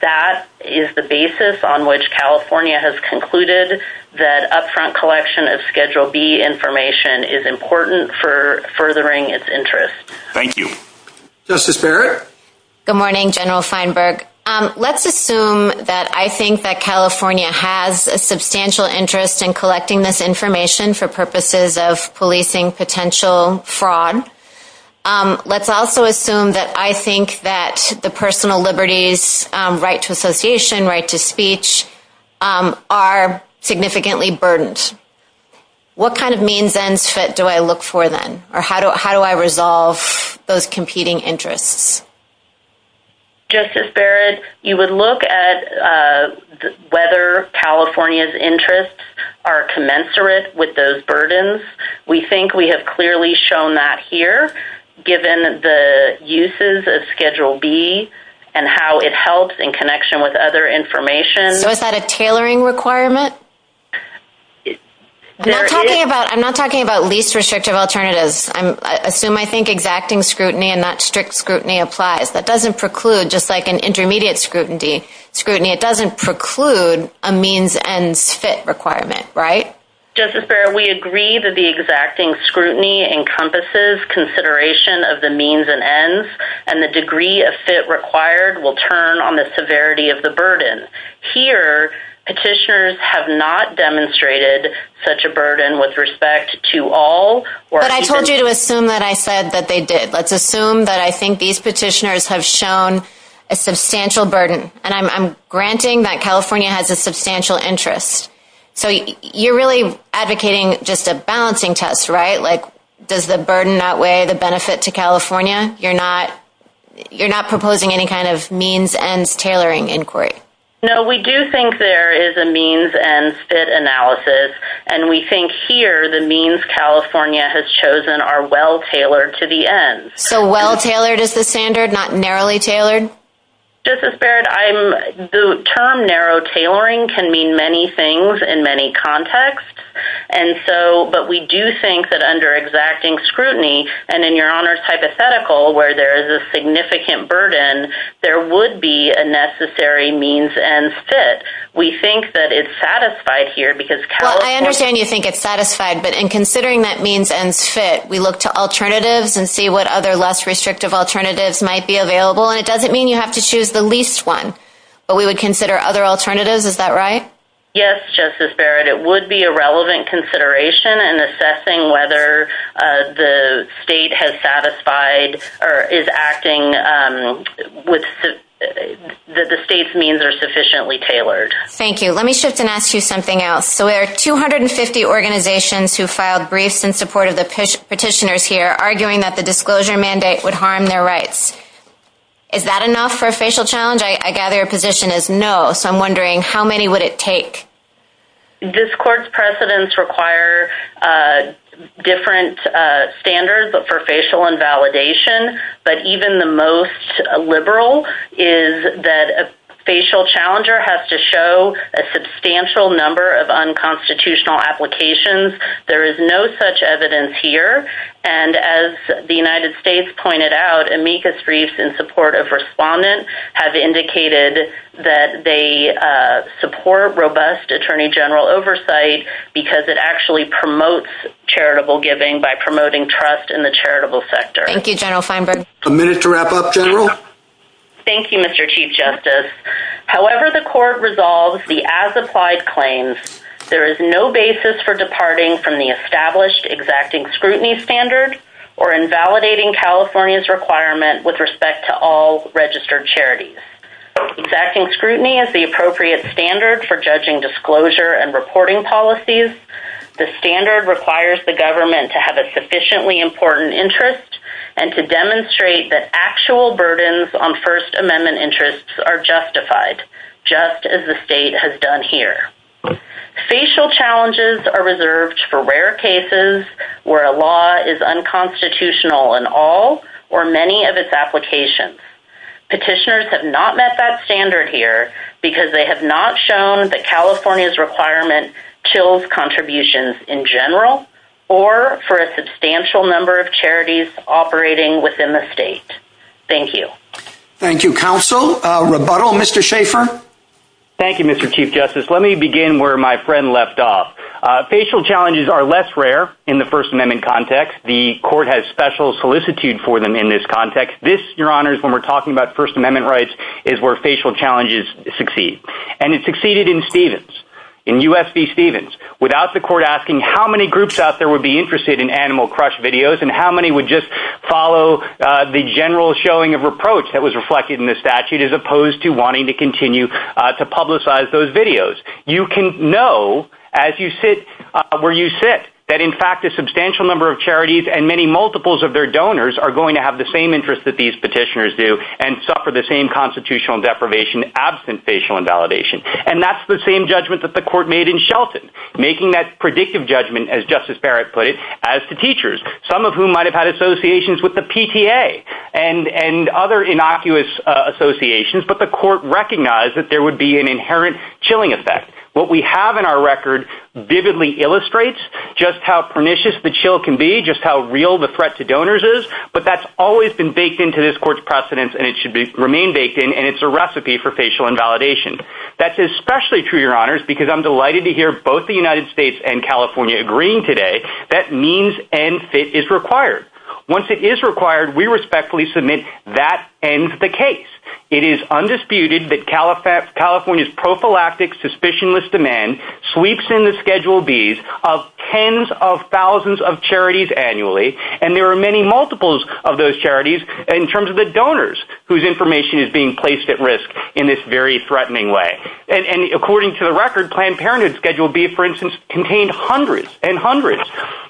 that is the basis on which California has concluded that upfront collection of Schedule B information is important for furthering its interest. Thank you. Justice Barrett? Good morning General Feinberg. Let's assume that I think that California has a substantial interest in collecting this information for purposes of policing potential fraud. Let's also assume that I think that the personal liberties, right to association, right to speech are significantly burdened. What kind of means do I look for then? How do I resolve those competing interests? Justice Barrett you would look at whether California's interests are commensurate with those burdens. We think we have clearly shown that here given the uses of Schedule B and how it helps in connection with other information. So is that a tailoring requirement? I'm not talking about least restrictive alternatives. I assume I think exacting scrutiny and not strict scrutiny applies. That doesn't preclude just like an intermediate scrutiny it doesn't preclude a means ends fit requirement, right? Justice Barrett we agree that the exacting scrutiny encompasses consideration of the means and ends and the degree of fit required will turn on the severity of the burden. Here petitioners have not demonstrated such a burden with respect to all. But I told you to assume that I said that they did. Let's assume that I think these petitioners have shown a substantial burden and I'm granting that California has a substantial interest. So you're really advocating just a balancing test, right? Like does the burden outweigh the benefit to California? You're not proposing any kind of means ends tailoring inquiry? No, we do think there is a means ends fit analysis and we think here the means California has chosen are well tailored to the ends. So well tailored is the standard not narrowly tailored? Justice Barrett, the term narrow tailoring can mean many things in many contexts and so but we do think that under exacting scrutiny and in your honors hypothetical where there is a significant burden there would be a necessary means ends fit. We think that it's satisfied here because California Well I understand you think it's satisfied but in considering that means ends fit we look to alternatives and see what other less restrictive alternatives might be available and it doesn't mean you have to choose the least one. But we would consider other alternatives, is that right? Yes, Justice Barrett. It would be a relevant consideration in assessing whether the state has satisfied or is acting with the state's means are sufficiently tailored. Thank you. Let me shift and ask you something else. So there are 250 organizations who filed briefs in support of the petitioners here arguing that the disclosure mandate would harm their rights. Is that enough for a facial challenge? I gather your position is no. So I'm wondering how many would it take? This court's precedents require different standards for facial invalidation but even the most liberal is that a facial challenger has to show a substantial number of unconstitutional applications. There is no such evidence here and as the United States Department of Justice has said, However, the court's briefs in support of respondents have indicated that they support robust Attorney General oversight because it actually promotes charitable giving by promoting trust in the charitable sector. Thank you, General Feinberg. A minute to wrap up, General. Thank you, Mr. Chief Justice. However, the court resolves the as-applied claims. There is no basis for departing from the established exacting scrutiny standard or invalidating California's requirement with respect to all registered charities. Exacting scrutiny is the appropriate standard for judging disclosure and reporting policies. The standard requires the government to have a sufficiently important interest and to demonstrate that actual burdens on First Amendment interests are justified just as the state has done here. Facial challenges are reserved for rare cases where a law is unconstitutional in all or many of its applications. Petitioners have not met that standard here because they have not shown that California's requirement kills contributions in general or for a substantial number of charities operating within the state. Thank you. Thank you, Counsel. Rebuttal. Mr. Schaffer? Thank you, Mr. Chief Justice. Let me begin where my friend left off. Facial challenges are less rare in the First Amendment context. The court has special solicitude for them in this context. This, Your Honors, when we're talking about First Amendment rights, is where facial challenges succeed. And it succeeded in Stevens, in U.S. v. Stevens, without the court asking how many groups out there would be interested in Animal Crush videos and how many would just follow the general showing of reproach that was reflected in the statute as opposed to wanting to continue to publicize those videos. You can know, as you sit where you sit, that in fact a substantial number of charities and many multiples of their donors are going to have the same interest that these petitioners do and suffer the same constitutional deprivation absent facial invalidation. And that's the same judgment that the court made in Shelton, making that predictive judgment as Justice Barrett put it, as to teachers, some of whom might have had associations with the PTA and other innocuous associations, but the court recognized that there would be an inherent chilling effect. What we have in our record vividly illustrates just how pernicious the chill can be, just how real the threat to donors is, but that's always been baked into this court's precedence and it should remain baked in and it's a recipe for facial invalidation. That's especially true, Your Honors, because I'm delighted to hear both the United States and California agreeing today that means and fit is required. Once it is required, we respectfully submit that ends the case. It is undisputed that California's prophylactic, suspicionless demand sweeps in the Schedule B's of tens of thousands of charities annually and there are many multiples of those charities in terms of the donors whose information is being placed at risk in this very threatening way. And according to the record, Planned Parenthood Schedule B for instance contained hundreds and hundreds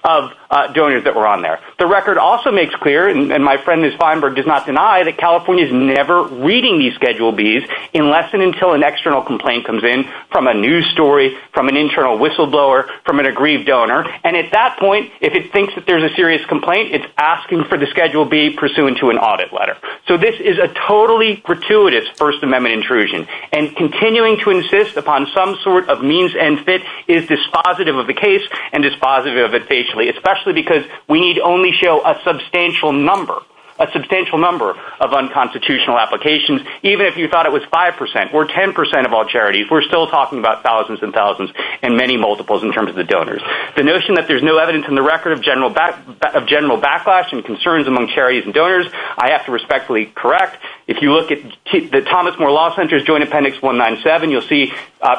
of donors that were on there. The record also makes clear, and my friend Ms. Feinberg does not deny, that California is never reading these Schedule B's unless and until an external complaint comes in from a news story, from an internal whistleblower, from an agreed donor, and at that point, if it thinks that there's a serious complaint, it's asking for the Schedule B pursuant to an audit letter. So this is a totally gratuitous First Amendment intrusion and continuing to insist upon some sort of means and fit is dispositive of the case and dispositive of it basically, especially because we need only show a substantial number a substantial number of unconstitutional applications, even if you thought it was 5% or 10% of all charities we're still talking about thousands and thousands and many multiples in terms of the donors. The notion that there's no evidence in the record of general backlash and concerns among charities and donors, I have to respectfully correct. If you look at the Thomas More Law Center's Joint Appendix 197, you'll see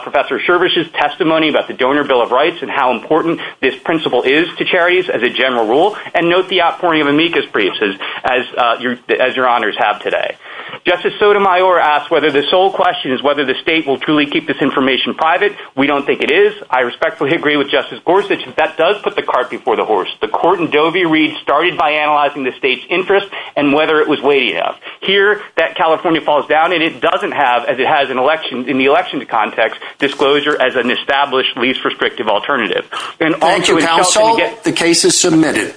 Professor Shervish's testimony about the Donor Bill of Rights and how important this principle is to charities as a general rule, and note the outpouring of amicus briefs as your honors have today. Justice Sotomayor asks whether the sole question is whether the state will truly keep this information private. We don't think it is. I respectfully agree with Justice Gorsuch that does put the cart before the horse. The court in Dovey reads started by analyzing the state's interest and whether it was weighty enough. Here, that California falls down and it doesn't have, as it has in the election context, disclosure as an established, least restrictive alternative. Thank you, counsel. The case is submitted.